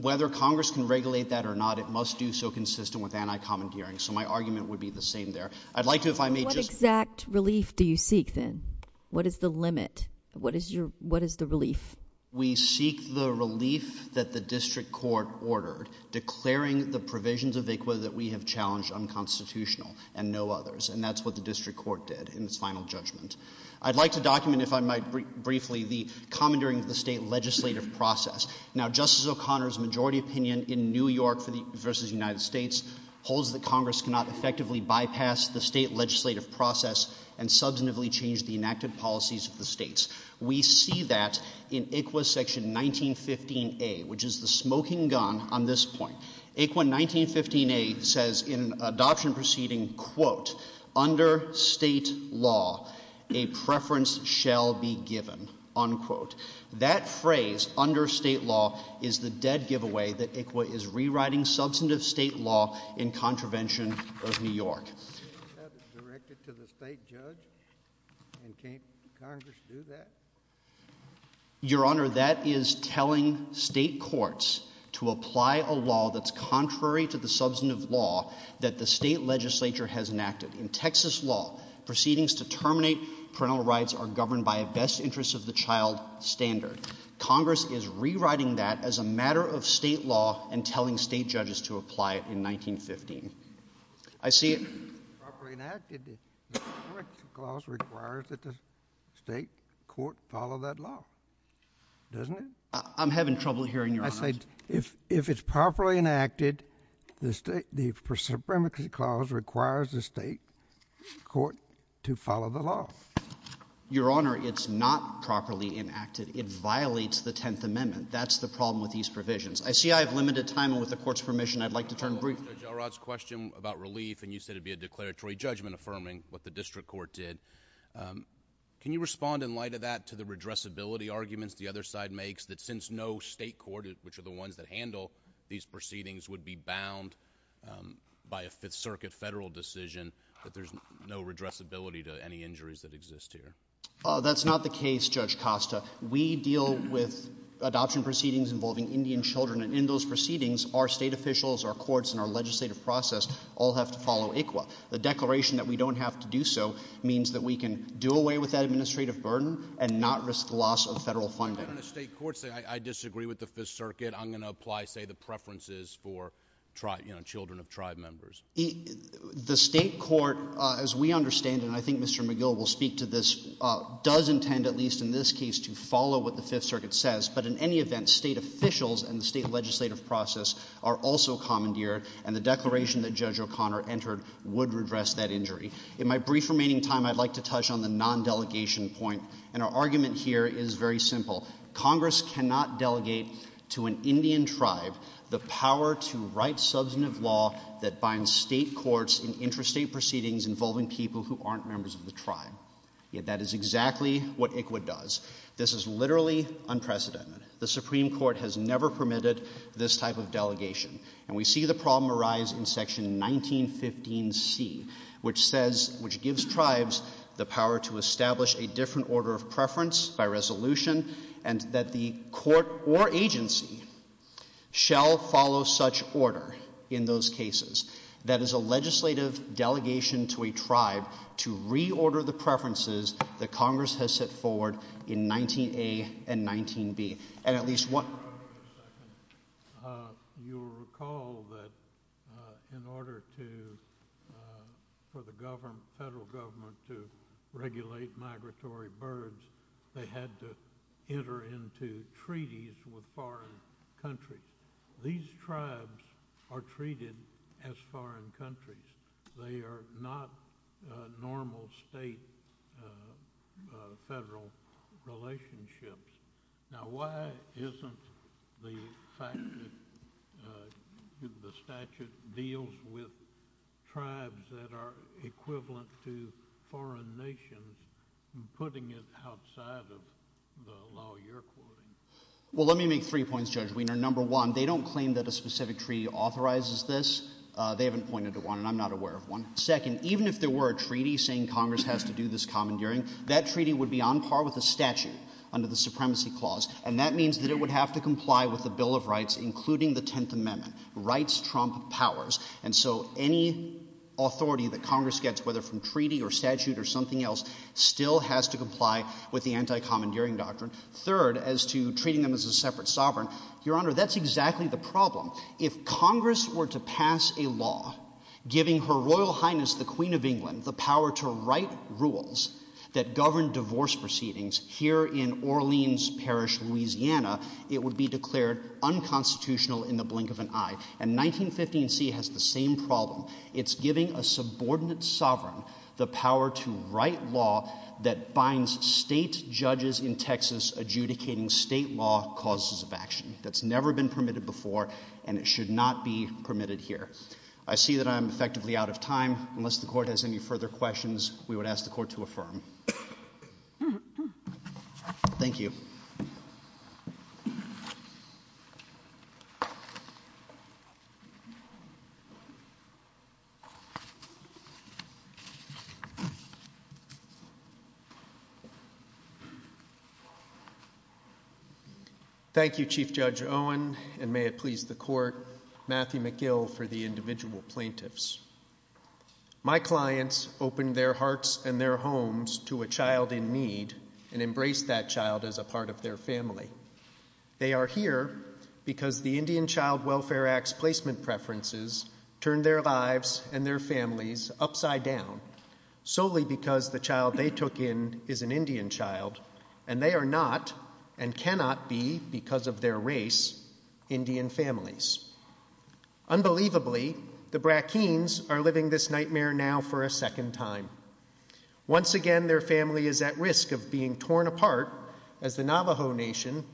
Whether Congress can regulate that or not, it must be so consistent with anti-commandeering. So my argument would be the same there. I'd like to, if I may... What exact relief do you seek, then? What is the limit? What is the relief? We seek the relief that the district court ordered, declaring the provisions of ICWA that we have challenged unconstitutional and no others. And that's what the district court did in its final judgment. I'd like to document, if I might briefly, the commandeering of the state legislative process. Now, Justice O'Connor's majority opinion in New York v. United States holds that Congress cannot effectively bypass the state legislative process and substantively change the enacted policies of the states. We see that in ICWA Section 1915a, which is the smoking gun on this point. ICWA 1915a says in adoption proceeding, quote, under state law, a preference shall be given, unquote. That phrase, under state law, is the dead giveaway that ICWA is rewriting substantive state law in contravention of New York. That's directed to the state judge? And can't Congress do that? Your Honor, that is telling state courts to apply a law that's contrary to the substantive law that the state legislature has enacted. In Texas law, proceedings to terminate parental rights are governed by a best interest of the child standard. Congress is rewriting that as a matter of state law and telling state judges to apply it in 1915. I see it. If it's properly enacted, the Supremacy Clause requires that the state court follow that law, doesn't it? I'm having trouble hearing you, Your Honor. I said, if it's properly enacted, the Supremacy Clause requires the state court to follow the law. Your Honor, it's not properly enacted. It violates the Tenth Amendment. That's the problem with these provisions. I see I have limited time, and with the Court's permission, I'd like to turn briefly. Judge Elrod's question about relief, and you said it would be a declaratory judgment affirming what the district court did. Can you respond in light of that to the redressability arguments the other side makes that since no state court, which are the ones that handle these proceedings, would be bound by a Fifth Circuit federal decision that there's no redressability to any injuries that exist here? That's not the case, Judge Costa. We deal with adoption proceedings involving Indian children, and in those proceedings, our state officials, our courts, and our legislative process all have to follow ICWA. The declaration that we don't have to do so means that we can do away with that administrative burden and not risk loss of federal funding. The state courts say, I disagree with the Fifth Circuit. I'm going to apply, say, the preferences for, you know, children of tribe members. The state court, as we understand it, and I think Mr. McGill will speak to this, does intend, at least in this case, to follow what the Fifth Circuit says, but in any event, the state officials and the state legislative process are also commandeered, and the declaration that Judge O'Connor entered would redress that injury. In my brief remaining time, I'd like to touch on the non-delegation point, and our argument here is very simple. Congress cannot delegate to an Indian tribe the power to write substantive law that binds state courts in interstate proceedings involving people who aren't members of the tribe. Yet that is exactly what ICWA does. This is literally unprecedented. The Supreme Court has never permitted this type of delegation, and we see the problem arise in Section 1915C, which says, which gives tribes the power to establish a different order of preference by resolution, and that the court or agency shall follow such order in those cases. That is a legislative delegation to a tribe to reorder the preferences that Congress has set forward in 19A and 19B. At least one... You'll recall that in order for the federal government to regulate migratory birds, they had to enter into treaties with foreign countries. These tribes are treated as foreign countries. They are not normal state-federal relationships. Now, why isn't the fact that the statute deals with tribes that are equivalent to foreign nations, putting it outside of the law you're quoting? Well, let me make three points, Judge Wiener. Number one, they don't claim that a specific treaty authorizes this. They haven't pointed to one, and I'm not aware of one. Second, even if there were a treaty saying Congress has to do this commandeering, that treaty would be on par with the statute under the Supremacy Clause, and that means that it would have to comply with the Bill of Rights, including the Tenth Amendment. Rights trump powers. And so any authority that Congress gets, whether from treaty or statute or something else, still has to comply with the anti-commandeering doctrine. Third, as to treating them as a separate sovereign, Your Honor, that's exactly the problem. If Congress were to pass a law giving Her Royal Highness, the Queen of England, the power to write rules that govern divorce proceedings here in Orleans Parish, Louisiana, it would be declared unconstitutional in the blink of an eye. And 1915c has the same problem. It's giving a subordinate sovereign the power to write law that binds state judges in Texas adjudicating state law causes of action. That's never been permitted before, and it should not be permitted here. I see that I'm effectively out of time. Unless the Court has any further questions, we would ask the Court to affirm. Thank you. Thank you. Thank you, Chief Judge Owen, and may it please the Court, Matthew McGill for the individual plaintiffs. My clients opened their hearts and their homes to a child in need and embraced that child as a part of their family. They are here because the Indian Child Welfare Act's placement preferences turned their lives and their families upside down, solely because the child they took in is an Indian child, and they are not, and cannot be, because of their race, Indian families. Unbelievably, the Brackeens are living this nightmare now for a second time. Once again, their family is at risk of being torn apart as the Navajo Nation,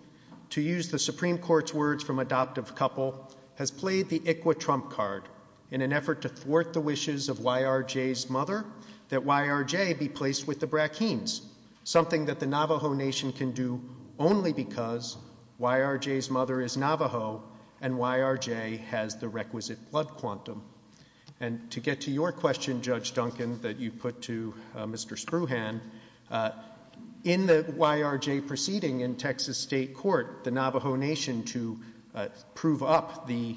to use the Supreme Court's words from Adoptive Couple, has played the ICWA trump card in an effort to thwart the wishes of YRJ's mother that YRJ be placed with the Brackeens, something that the Navajo Nation can do only because YRJ's mother is Navajo and YRJ has the requisite blood quantum. And to get to your question, Judge Duncan, that you put to Mr. Spruhan, in the YRJ proceeding in Texas State Court, the Navajo Nation, to prove up the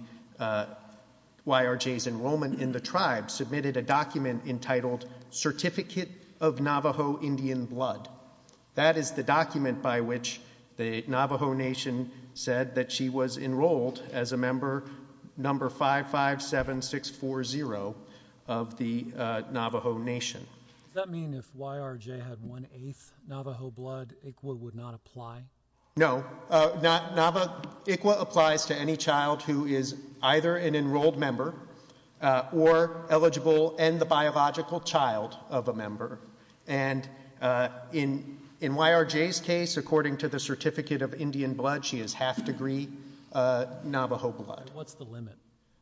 YRJ's enrollment in the tribe, submitted a document entitled Certificate of Navajo Indian Blood. That is the document by which the Navajo Nation said that she was enrolled as a member, number 557640 of the Navajo Nation. Does that mean if YRJ had one-eighth Navajo blood, ICWA would not apply? No. ICWA applies to any child who is either an enrolled member or eligible and the biological child of a member. And in YRJ's case, according to the Certificate of Indian Blood, she is half-degree Navajo blood. What's the limit?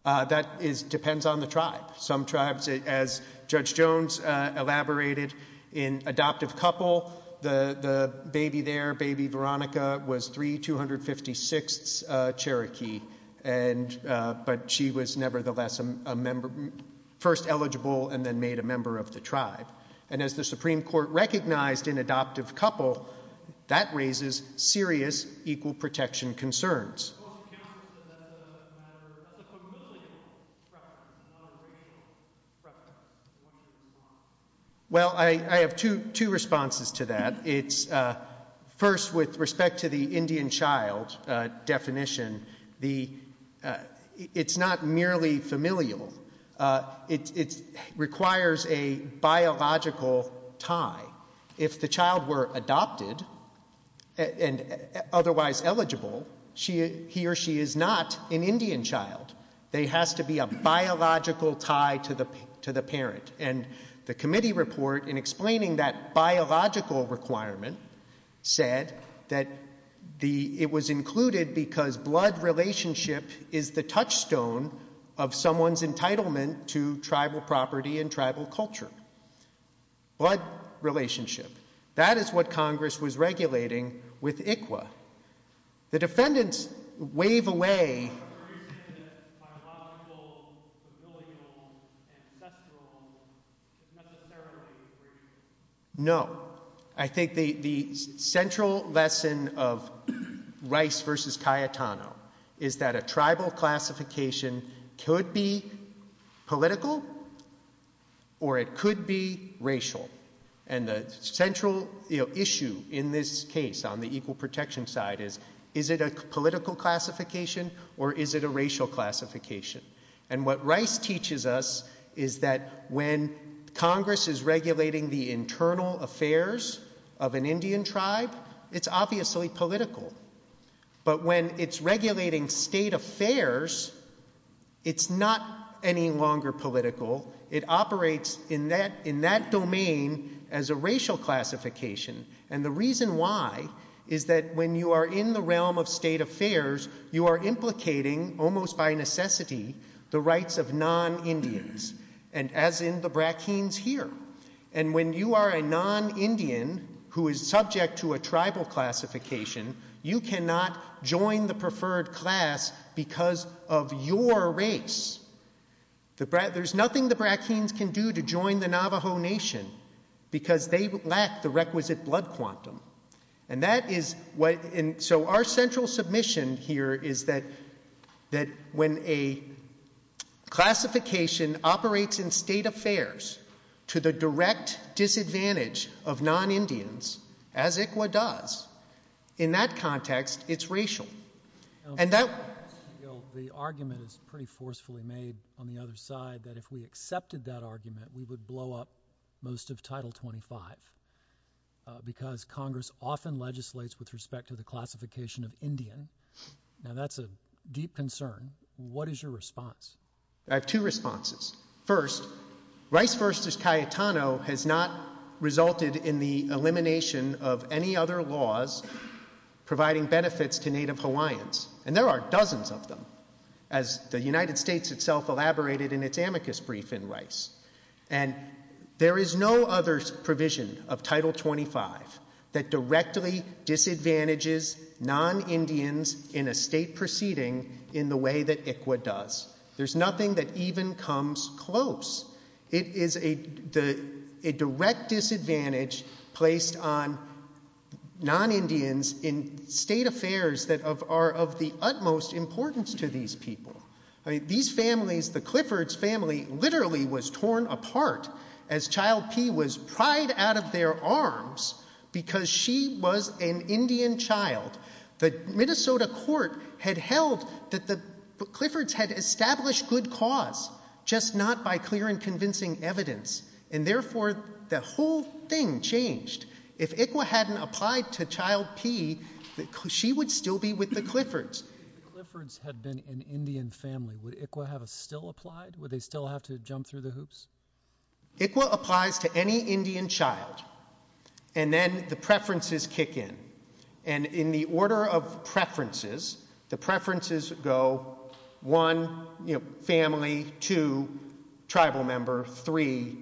That depends on the tribe. Some tribes, as Judge Jones elaborated, in adoptive couple, the baby there, baby Veronica, was 3256 Cherokee, but she was nevertheless first eligible and then made a member of the tribe. And as the Supreme Court recognized in adoptive couple, that raises serious equal protection concerns. Well, I have two responses to that. First, with respect to the Indian child definition, it's not merely familial. It requires a biological tie. If the child were adopted and otherwise eligible, he or she is not an Indian child. They have to be a biological tie to the parent. And the committee report in explaining that biological requirement said that it was included because blood relationship is the touchstone of someone's entitlement to tribal property and tribal culture. Blood relationship. That is what Congress was regulating with ICWA. The defendants wave away... No. I think the central lesson of Rice versus Cayetano is that a tribal classification could be political or it could be racial. And the central issue in this case on the equal protection side is, is it a political classification or is it a racial classification? And what Rice teaches us is that when Congress is regulating the internal affairs of an Indian tribe, it's obviously political. But when it's regulating state affairs, it's not any longer political. It operates in that domain as a racial classification. And the reason why is that when you are in the realm of state affairs, you are implicating almost by necessity the rights of non-Indians. And as in the Brackens here. And when you are a non-Indian who is subject to a tribal classification, you cannot join the preferred class because of your race. There's nothing the Brackens can do to join the Navajo Nation because they lack the requisite blood quantum. And that is what... And so our central submission here is that when a classification operates in state affairs to the direct disadvantage of non-Indians, as ICWA does, in that context, it's racial. And that... The argument is pretty forcefully made on the other side that if we accepted that argument, we would blow up most of Title 25 because Congress often legislates with respect to the classification of Indian. Now that's a deep concern. What is your response? I have two responses. First, Rice versus Cayetano has not resulted in the elimination of any other laws providing benefits to Native Hawaiians. And there are dozens of them, as the United States itself elaborated in its amicus brief in Rice. And there is no other provision of Title 25 that directly disadvantages non-Indians in a state proceeding in the way that ICWA does. There's nothing that even comes close. It is a direct disadvantage placed on non-Indians in state affairs that are of the utmost importance to these people. These families, the Cliffords family, literally was torn apart as child P was pried out of their arms because she was an Indian child. The Minnesota court had held that the Cliffords had established good cause, just not by clear and convincing evidence. And therefore, the whole thing changed. If ICWA hadn't applied to child P, she would still be with the Cliffords. If the Cliffords had been an Indian family, would ICWA have still applied? Would they still have to jump through the hoops? ICWA applies to any Indian child. And then the preferences kick in. And in the order of preferences, the preferences go one, you know, family, two, tribal member, three,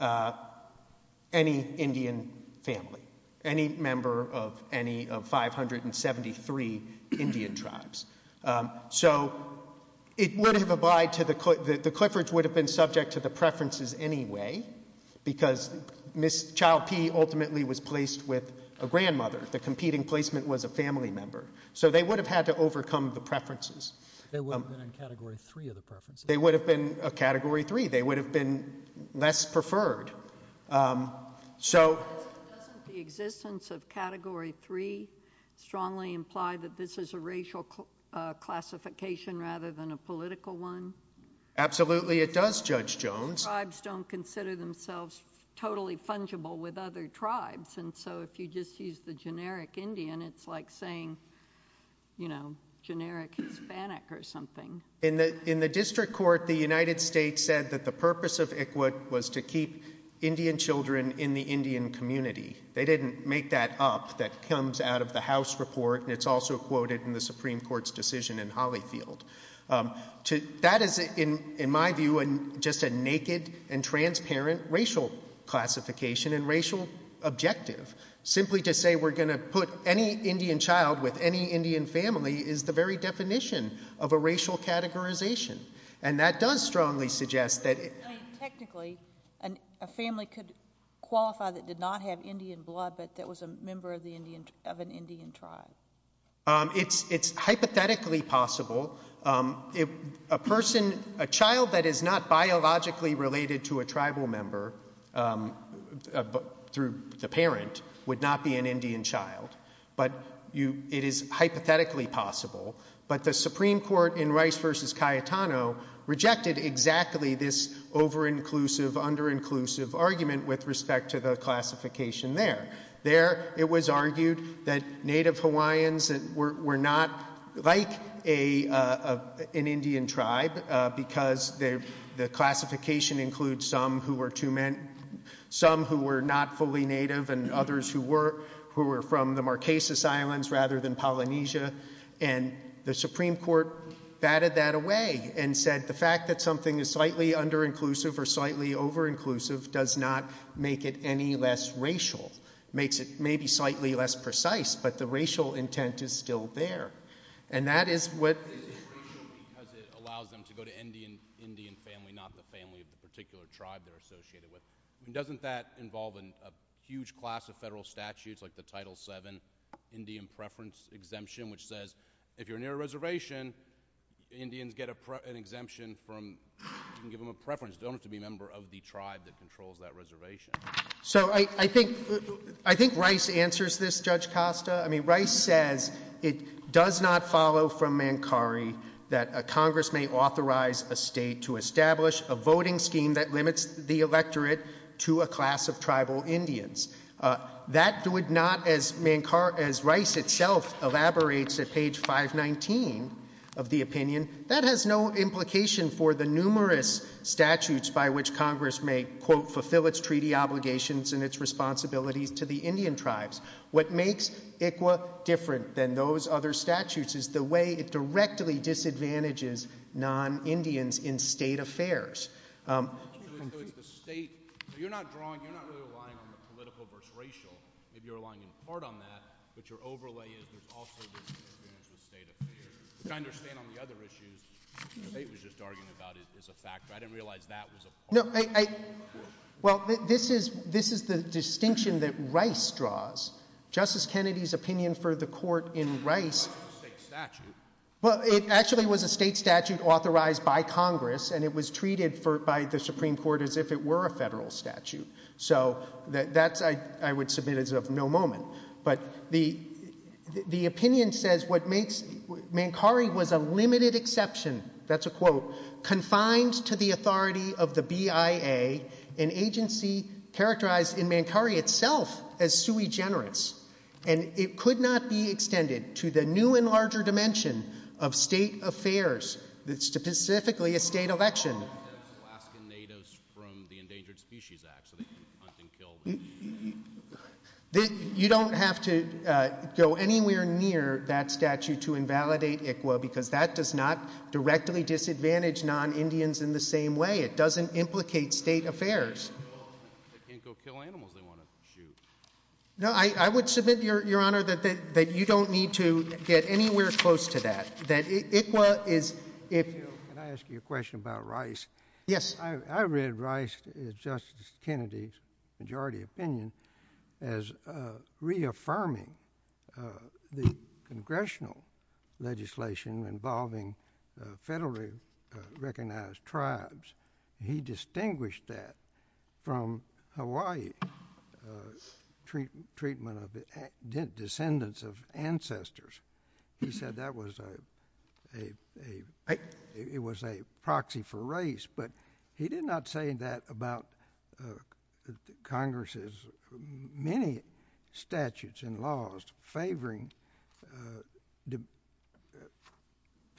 any Indian family, any member of any of 573 Indian tribes. So it wouldn't have applied to the – the Cliffords would have been subject to the preferences anyway because child P ultimately was placed with a grandmother. The competing placement was a family member. So they would have had to overcome the preferences. They wouldn't have been in Category 3 of the preferences. They would have been a Category 3. They would have been less preferred. So – Doesn't the existence of Category 3 strongly imply that this is a racial classification rather than a political one? Absolutely it does, Judge Jones. Tribes don't consider themselves totally fungible with other tribes. And so if you just use the generic Indian, it's like saying, you know, generic Hispanic or something. In the district court, the United States said that the purpose of ICWA was to keep Indian children in the Indian community. They didn't make that up. That comes out of the House report, and it's also quoted in the Supreme Court's decision in Holyfield. That is, in my view, just a naked and transparent racial classification and racial objective. Simply to say we're going to put any Indian child with any Indian family is the very definition of a racial categorization. And that does strongly suggest that – Technically, a family could qualify that did not have Indian blood but that was a member of an Indian tribe. It's hypothetically possible. A person – a child that is not biologically related to a tribal member through the parent would not be an Indian child. But it is hypothetically possible. But the Supreme Court in Rice v. Cayetano rejected exactly this over-inclusive, under-inclusive argument with respect to the classification there. It was argued that Native Hawaiians were not like an Indian tribe because the classification includes some who were not fully Native and others who were from the Marquesas Islands rather than Polynesia. And the Supreme Court batted that away and said the fact that something is slightly under-inclusive or slightly over-inclusive does not make it any less racial. It makes it maybe slightly less precise, but the racial intent is still there. And that is what – Because it allows them to go to Indian family, not the family of the particular tribe they're associated with. Doesn't that involve a huge class of federal statutes like the Title VII Indian Preference Exemption, which says if you're near a reservation, Indians get an exemption from – you can give them a preference. They don't have to be a member of the tribe that controls that reservation. So I think Rice answers this, Judge Costa. I mean, Rice says it does not follow from Mancari that a Congress may authorize a state to establish a voting scheme that limits the electorate to a class of tribal Indians. That would not, as Rice itself elaborates at page 519 of the opinion, that has no implication for the numerous statutes by which Congress may, quote, fulfill its treaty obligations and its responsibility to the Indian tribes. What makes ICWA different than those other statutes is the way it directly disadvantages non-Indians in state affairs. The state – you're not drawing – you're not really relying on the political versus racial. You're relying in part on that, but your overlay is also the state affairs. I understand on the other issues the state was just arguing about is a factor. I didn't realize that was a factor. Well, this is the distinction that Rice draws. Justice Kennedy's opinion for the court in Rice – It's a state statute. Well, it actually was a state statute authorized by Congress, and it was treated by the Supreme Court as if it were a federal statute. So that's – I would submit as of no moment. But the opinion says what makes – Mancari was a limited exception – that's a quote – confined to the authority of the BIA, an agency characterized in Mancari itself as sui generis. And it could not be extended to the new and larger dimension of state affairs, specifically a state election. You don't have to go anywhere near that statute to invalidate ICWA, because that does not directly disadvantage non-Indians in the same way. It doesn't implicate state affairs. They can't go kill animals they want to shoot. No, I would submit, Your Honor, that you don't need to get anywhere close to that. That ICWA is – Can I ask you a question about Rice? Yes. I read Rice as Justice Kennedy's majority opinion as reaffirming the congressional legislation involving federally recognized tribes. He distinguished that from Hawaii's treatment of descendants of ancestors. He said that was a – it was a proxy for Rice. But he did not say that about Congress's many statutes and laws favoring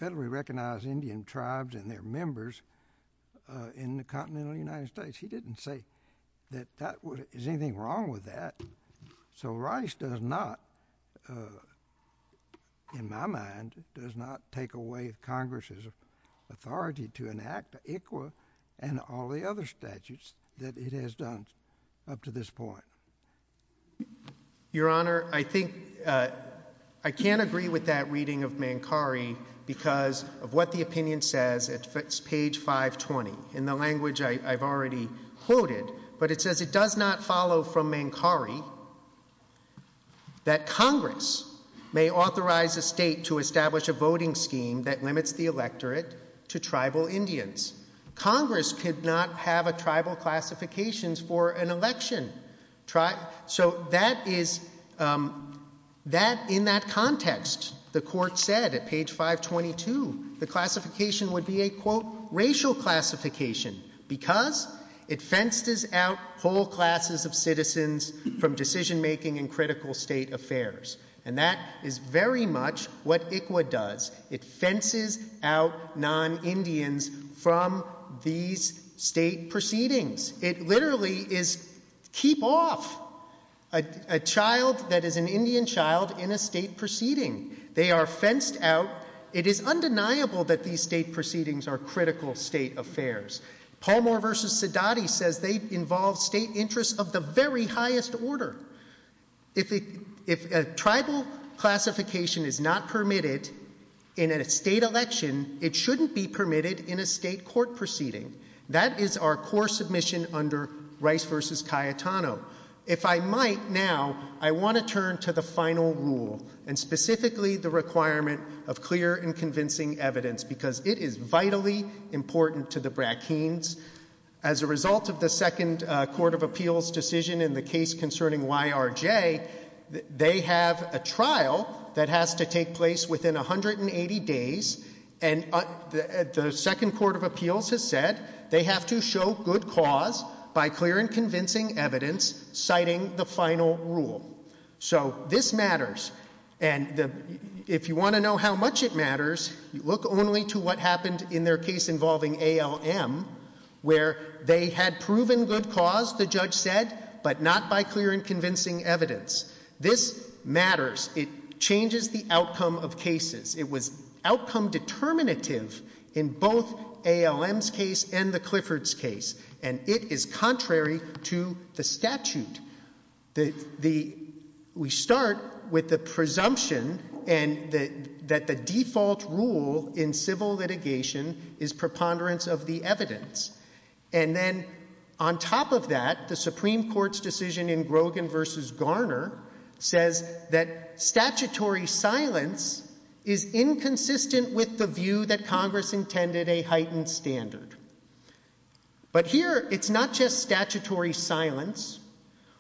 federally recognized Indian tribes and their members in the continental United States. He didn't say that there's anything wrong with that. So Rice does not, in my mind, does not take away Congress's authority to enact ICWA and all the other statutes that it has done up to this point. Your Honor, I think – I can't agree with that reading of Mankari because of what the opinion says. It's page 520. In the language I've already quoted. But it says it does not follow from Mankari that Congress may authorize a state to establish a voting scheme that limits the electorate to tribal Indians. Congress could not have a tribal classification for an election. So that is – that, in that context, the court said at page 522, the classification would be a, quote, racial classification because it fences out whole classes of citizens from decision-making in critical state affairs. And that is very much what ICWA does. It fences out non-Indians from these state proceedings. It literally is keep off a child that is an Indian child in a state proceeding. They are fenced out. It is undeniable that these state proceedings are critical state affairs. Palmer v. Sidati says they involve state interests of the very highest order. If a tribal classification is not permitted in a state election, it shouldn't be permitted in a state court proceeding. That is our core submission under Rice v. Cayetano. If I might now, I want to turn to the final rule and specifically the requirement of clear and convincing evidence because it is vitally important to the Bratkins. As a result of the second court of appeals decision in the case concerning YRJ, they have a trial that has to take place within 180 days. And the second court of appeals has said they have to show good cause by clear and convincing evidence citing the final rule. So this matters. And if you want to know how much it matters, look only to what happened in their case involving ALM where they had proven good cause, the judge said, but not by clear and convincing evidence. This matters. It changes the outcome of cases. It was outcome determinative in both ALM's case and the Clifford's case, and it is contrary to the statute. We start with the presumption that the default rule in civil litigation is preponderance of the evidence. And then on top of that, the Supreme Court's decision in Grogan v. Garner says that statutory silence is inconsistent with the view that Congress intended a heightened standard. But here it's not just statutory silence.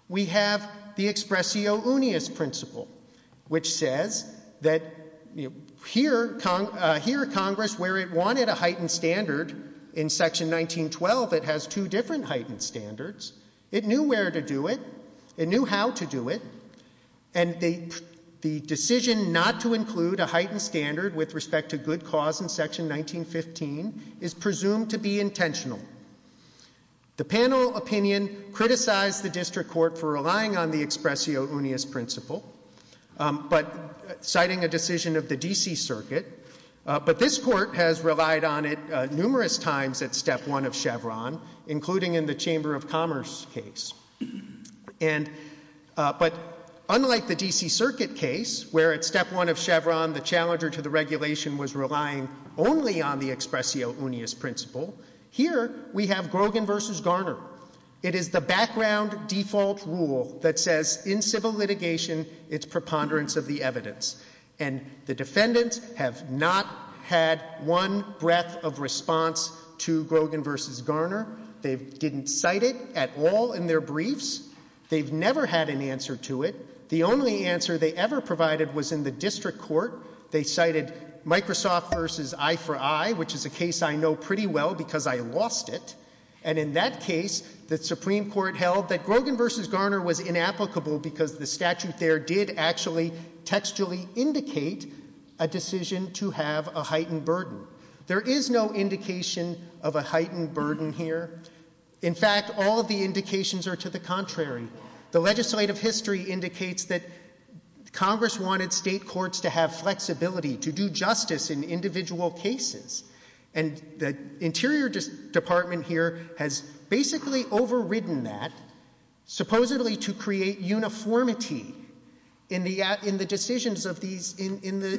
We have the expressio unius principle, which says that here Congress, where it wanted a heightened standard, in Section 1912 it has two different heightened standards. It knew where to do it. It knew how to do it. And the decision not to include a heightened standard with respect to good cause in Section 1915 is presumed to be intentional. The panel opinion criticized the district court for relying on the expressio unius principle, but citing a decision of the D.C. Circuit. But this court has relied on it numerous times at Step 1 of Chevron, including in the Chamber of Commerce case. But unlike the D.C. Circuit case, where at Step 1 of Chevron the challenger to the regulation was relying only on the expressio unius principle, here we have Grogan v. Garner. It is the background default rule that says in civil litigation it's preponderance of the evidence. And the defendants have not had one breath of response to Grogan v. Garner. They didn't cite it at all in their briefs. They've never had an answer to it. The only answer they ever provided was in the district court. They cited Microsoft v. I for I, which is a case I know pretty well because I lost it. And in that case, the Supreme Court held that Grogan v. Garner was inapplicable because the statute there did actually textually indicate a decision to have a heightened burden. There is no indication of a heightened burden here. In fact, all of the indications are to the contrary. The legislative history indicates that Congress wanted state courts to have flexibility to do justice in individual cases. And the Interior Department here has basically overridden that, supposedly to create uniformity in the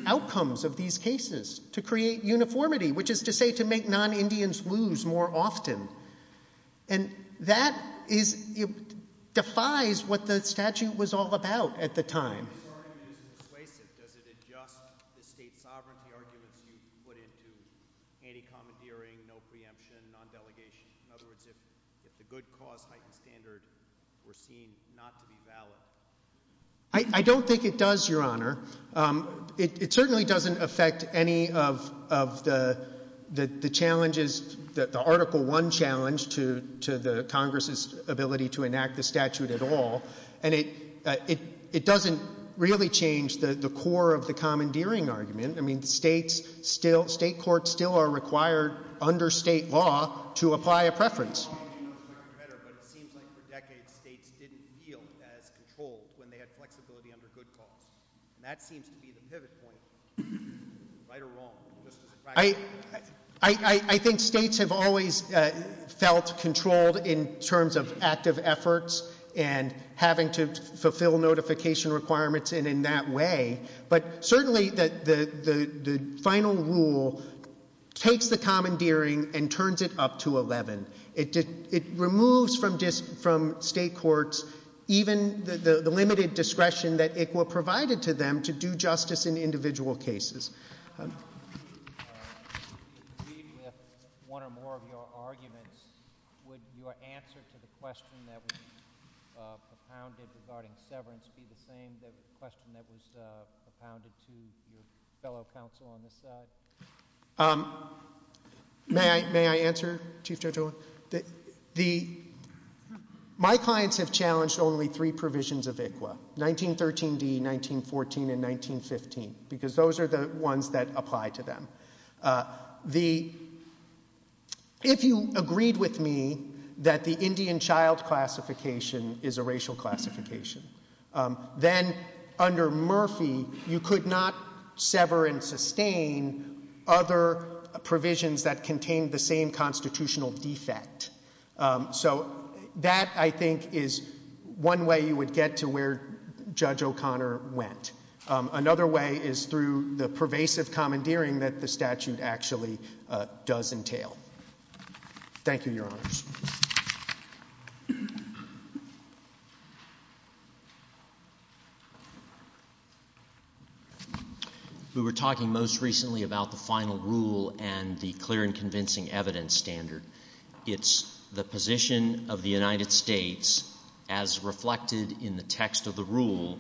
outcomes of these cases, to create uniformity, which is to say to make non-Indians lose more often. And that defies what the statute was all about at the time. I don't think it does, Your Honor. It certainly doesn't affect any of the challenges, the Article I challenge, to the Congress's ability to enact the statute at all. And it doesn't really change the core of the commandeering argument. I mean, states still, state courts still are required under state law to apply a preference. I think states have always felt controlled in terms of active efforts and having to fulfill notification requirements in that way. But certainly the final rule takes the commandeering and turns it up to 11. It removes from state courts even the limited discretion that it will provide to them to do justice in individual cases. With one or more of your arguments, would your answer to the question that was propounded regarding severance be the same as the question that was propounded to your fellow counsel on this side? May I answer, Chief Judge Owen? My clients have challenged only three provisions of ICWA, 1913d, 1914, and 1915, because those are the ones that apply to them. If you agreed with me that the Indian child classification is a racial classification, then under Murphy you could not sever and sustain other provisions that contained the same constitutional defect. So that, I think, is one way you would get to where Judge O'Connor went. Another way is through the pervasive commandeering that the statute actually does entail. Thank you, Your Honor. We were talking most recently about the final rule and the clear and convincing evidence standard. It's the position of the United States, as reflected in the text of the rule,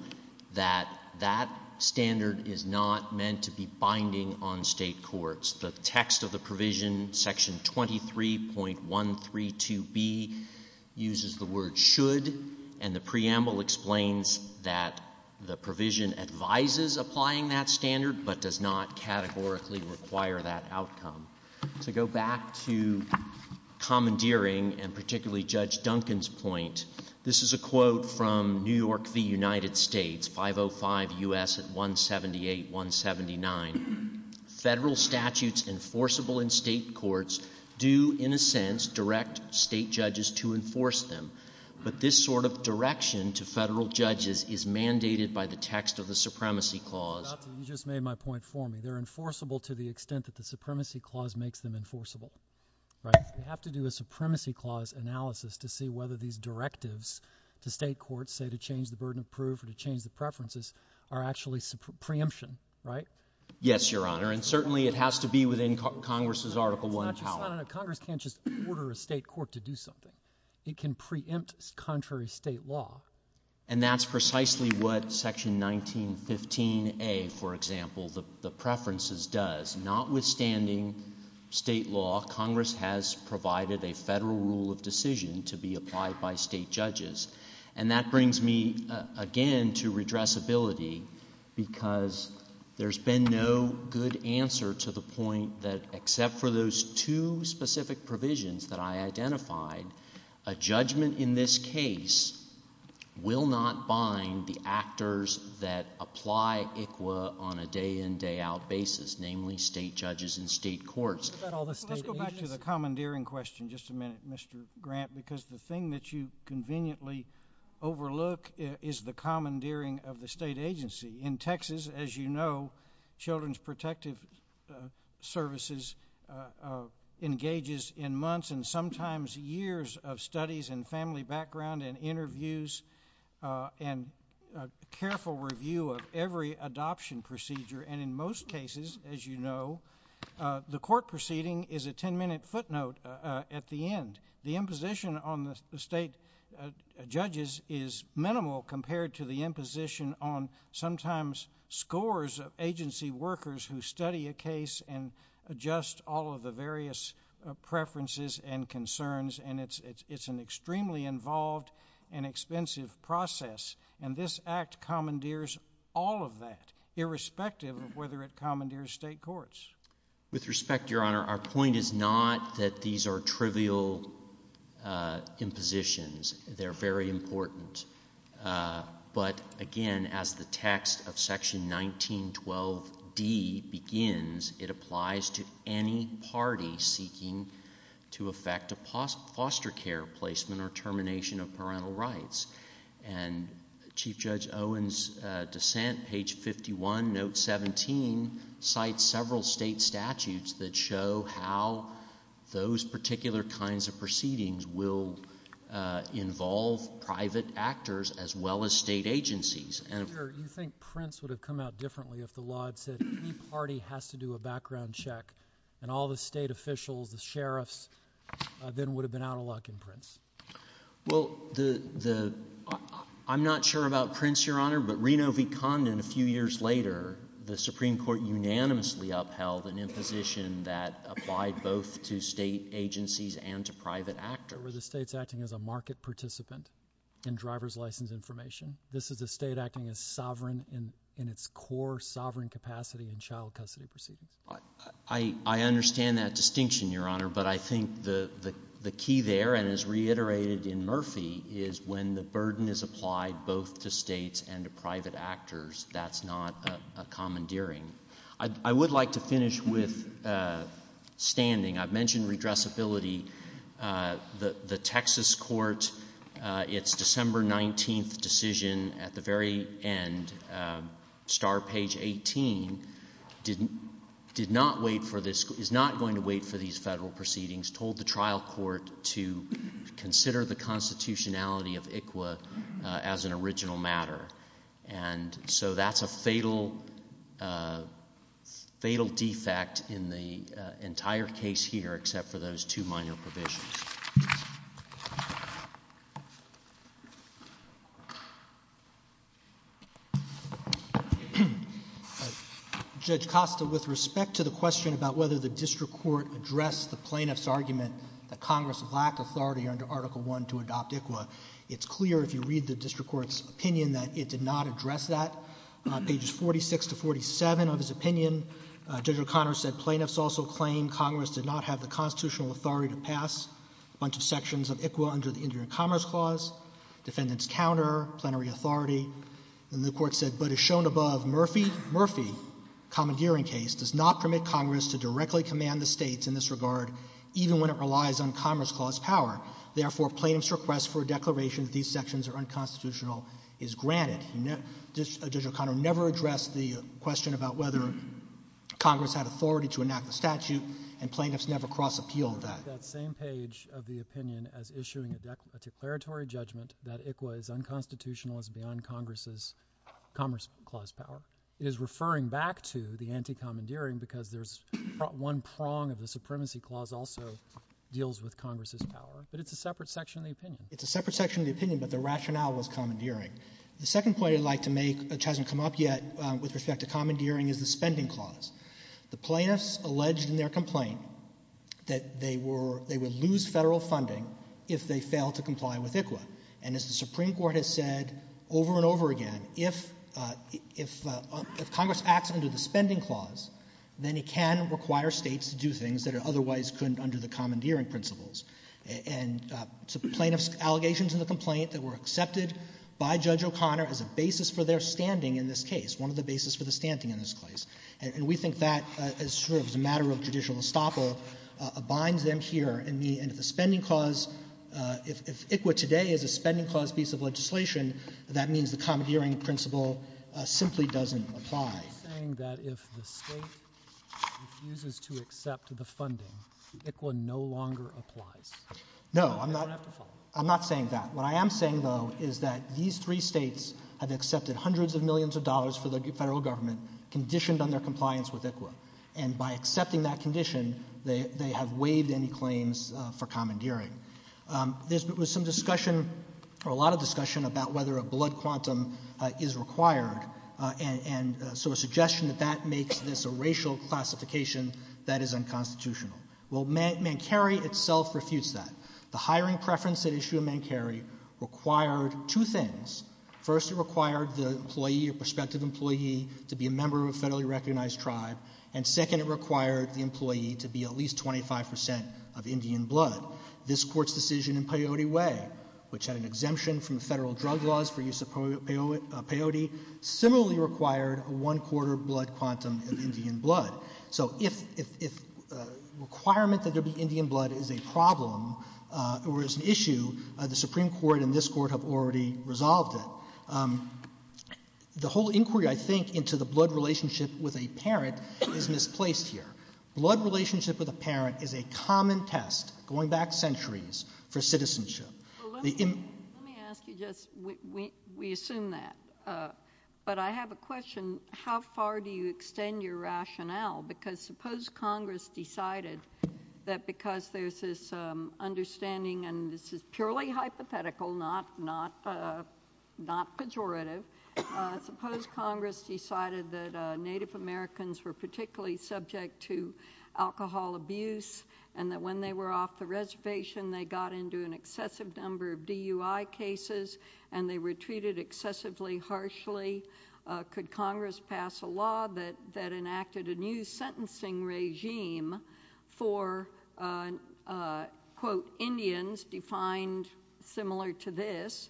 that that standard is not meant to be binding on state courts. The text of the provision, Section 23.132b, uses the word should, and the preamble explains that the provision advises applying that standard but does not categorically require that outcome. To go back to commandeering, and particularly Judge Duncan's point, this is a quote from New York v. United States, 505 U.S. 178-179. Federal statutes enforceable in state courts do, in a sense, direct state judges to enforce them, but this sort of direction to federal judges is mandated by the text of the Supremacy Clause. You just made my point for me. They're enforceable to the extent that the Supremacy Clause makes them enforceable. You have to do a Supremacy Clause analysis to see whether these directives to state courts, say to change the burden of proof or to change the preferences, are actually preemption, right? Yes, Your Honor, and certainly it has to be within Congress's Article I power. Congress can't just order a state court to do something. It can preempt contrary state law. And that's precisely what Section 1915a, for example, the preferences does. Notwithstanding state law, Congress has provided a federal rule of decision to be applied by state judges. And that brings me again to redressability because there's been no good answer to the point that, except for those two specific provisions that I identified, a judgment in this case will not bind the actors that apply ICWA on a day-in, day-out basis, namely state judges and state courts. Let's go back to the commandeering question just a minute, Mr. Grant, because the thing that you conveniently overlook is the commandeering of the state agency. In Texas, as you know, Children's Protective Services engages in months and sometimes years of studies and family background and interviews and careful review of every adoption procedure. And in most cases, as you know, the court proceeding is a 10-minute footnote at the end. The imposition on the state judges is minimal compared to the imposition on sometimes scores of agency workers who study a case and adjust all of the various preferences and concerns. And it's an extremely involved and expensive process. And this Act commandeers all of that, irrespective of whether it commandeers state courts. With respect, Your Honor, our point is not that these are trivial impositions. They're very important. But again, as the text of Section 1912B begins, it applies to any party seeking to effect a foster care placement or termination of parental rights. And Chief Judge Owen's dissent, page 51, note 17, cites several state statutes that show how those particular kinds of proceedings will involve private actors as well as state agencies. You think Prince would have come out differently if the law said any party has to do a background check and all the state officials, the sheriffs, then would have been out of luck in Prince? Well, I'm not sure about Prince, Your Honor, but Reno v. Condon a few years later, the Supreme Court unanimously upheld an imposition that applied both to state agencies and to private actors. Were the states acting as a market participant in driver's license information? This is the state acting as sovereign in its core sovereign capacity in child custody proceedings. I understand that distinction, Your Honor, but I think the key there, and as reiterated in Murphy, is when the burden is applied both to states and to private actors, that's not a commandeering. I would like to finish with standing. I've mentioned redressability. The Texas court, its December 19th decision at the very end, star page 18, did not wait for this, is not going to wait for these federal proceedings, told the trial court to consider the constitutionality of ICWA as an original matter. And so that's a fatal defect in the entire case here except for those two minor provisions. Judge Costa, with respect to the question about whether the district court addressed the plaintiff's argument that Congress lacked authority under Article I to adopt ICWA, it's clear if you read the district court's opinion that it did not address that. Pages 46 to 47 of his opinion, Judge O'Connor said plaintiffs also claim Congress did not have the constitutional authority to pass a bunch of sections of ICWA under the Indian Commerce Clause, defendant's counter, plenary authority. And the court said, but as shown above, Murphy, Murphy, commandeering case, does not permit Congress to directly command the states in this regard, even when it relies on Commerce Clause power. Therefore, plaintiffs' request for a declaration that these sections are unconstitutional is granted. Judge O'Connor never addressed the question about whether Congress had authority to enact the statute, and plaintiffs never cross-appealed that. That same page of the opinion as issuing a declaratory judgment that ICWA is unconstitutional and is beyond Commerce Clause power is referring back to the anti-commandeering because there's one prong of the supremacy clause also deals with Congress' power. But it's a separate section of the opinion. It's a separate section of the opinion, but the rationale was commandeering. The second point I'd like to make, which hasn't come up yet with respect to commandeering, is the spending clause. The plaintiffs alleged in their complaint that they would lose federal funding if they failed to comply with ICWA. And as the Supreme Court has said over and over again, if Congress acts under the spending clause, then it can require states to do things that it otherwise couldn't under the commandeering principles. And plaintiffs' allegations in the complaint that were accepted by Judge O'Connor as a basis for their standing in this case, one of the basis for their standing in this case. And we think that, as sort of a matter of judicial estoppel, binds them here. And the spending clause, if ICWA today is a spending clause piece of legislation, that means the commandeering principle simply doesn't apply. Are you saying that if the state refuses to accept the funding, ICWA no longer applies? No, I'm not saying that. What I am saying, though, is that these three states have accepted hundreds of millions of dollars for the federal government, conditioned on their compliance with ICWA. And by accepting that condition, they have waived any claims for commandeering. There's been some discussion, or a lot of discussion, about whether a blood quantum is required. And so a suggestion that that makes this a racial classification, that is unconstitutional. Well, Mancari itself refused that. The hiring preference at issue of Mancari required two things. First, it required the employee, prospective employee, to be a member of a federally recognized tribe. And second, it required the employee to be at least 25 percent of Indian blood. This Court's decision in Peyote Way, which had an exemption from federal drug laws for use of peyote, similarly required a one-quarter blood quantum of Indian blood. So if the requirement that there be Indian blood is a problem or is an issue, the Supreme Court and this Court have already resolved it. The whole inquiry, I think, into the blood relationship with a parent is misplaced here. Blood relationship with a parent is a common test going back centuries for citizenship. Let me ask you just, we assume that. But I have a question. How far do you extend your rationale? Because suppose Congress decided that because there's this understanding, and this is purely hypothetical, not pejorative, but suppose Congress decided that Native Americans were particularly subject to alcohol abuse and that when they were off the reservation they got into an excessive number of DUI cases and they were treated excessively harshly. Could Congress pass a law that enacted a new sentencing regime for, quote, Indians defined similar to this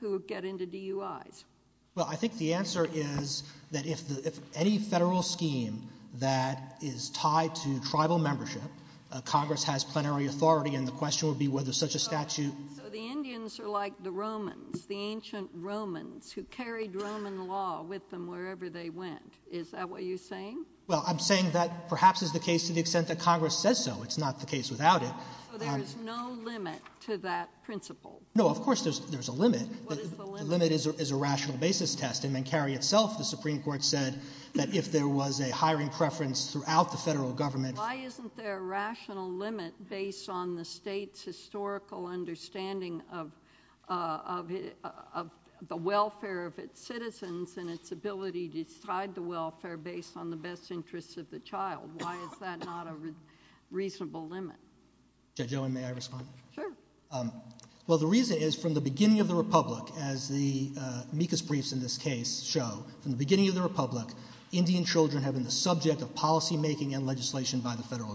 who get into DUIs? Well, I think the answer is that if any federal scheme that is tied to tribal membership, Congress has plenary authority and the question would be whether such a statute... So the Indians are like the Romans, the ancient Romans, who carried Roman law with them wherever they went. Is that what you're saying? Well, I'm saying that perhaps is the case to the extent that Congress says so. It's not the case without it. So there's no limit to that principle? No, of course there's a limit. What is the limit? The limit is a rational basis test. And then Carrie herself, the Supreme Court, said that if there was a hiring preference throughout the federal government... Why isn't there a rational limit based on the state's historical understanding of the welfare of its citizens and its ability to decide the welfare based on the best interests of the child? Why is that not a reasonable limit? Joan, may I respond? Sure. Well, the reason is from the beginning of the Republic, as the Mekus briefs in this case show, from the beginning of the Republic, Indian children have been the subject of policymaking and legislation by the federal government. Thank you.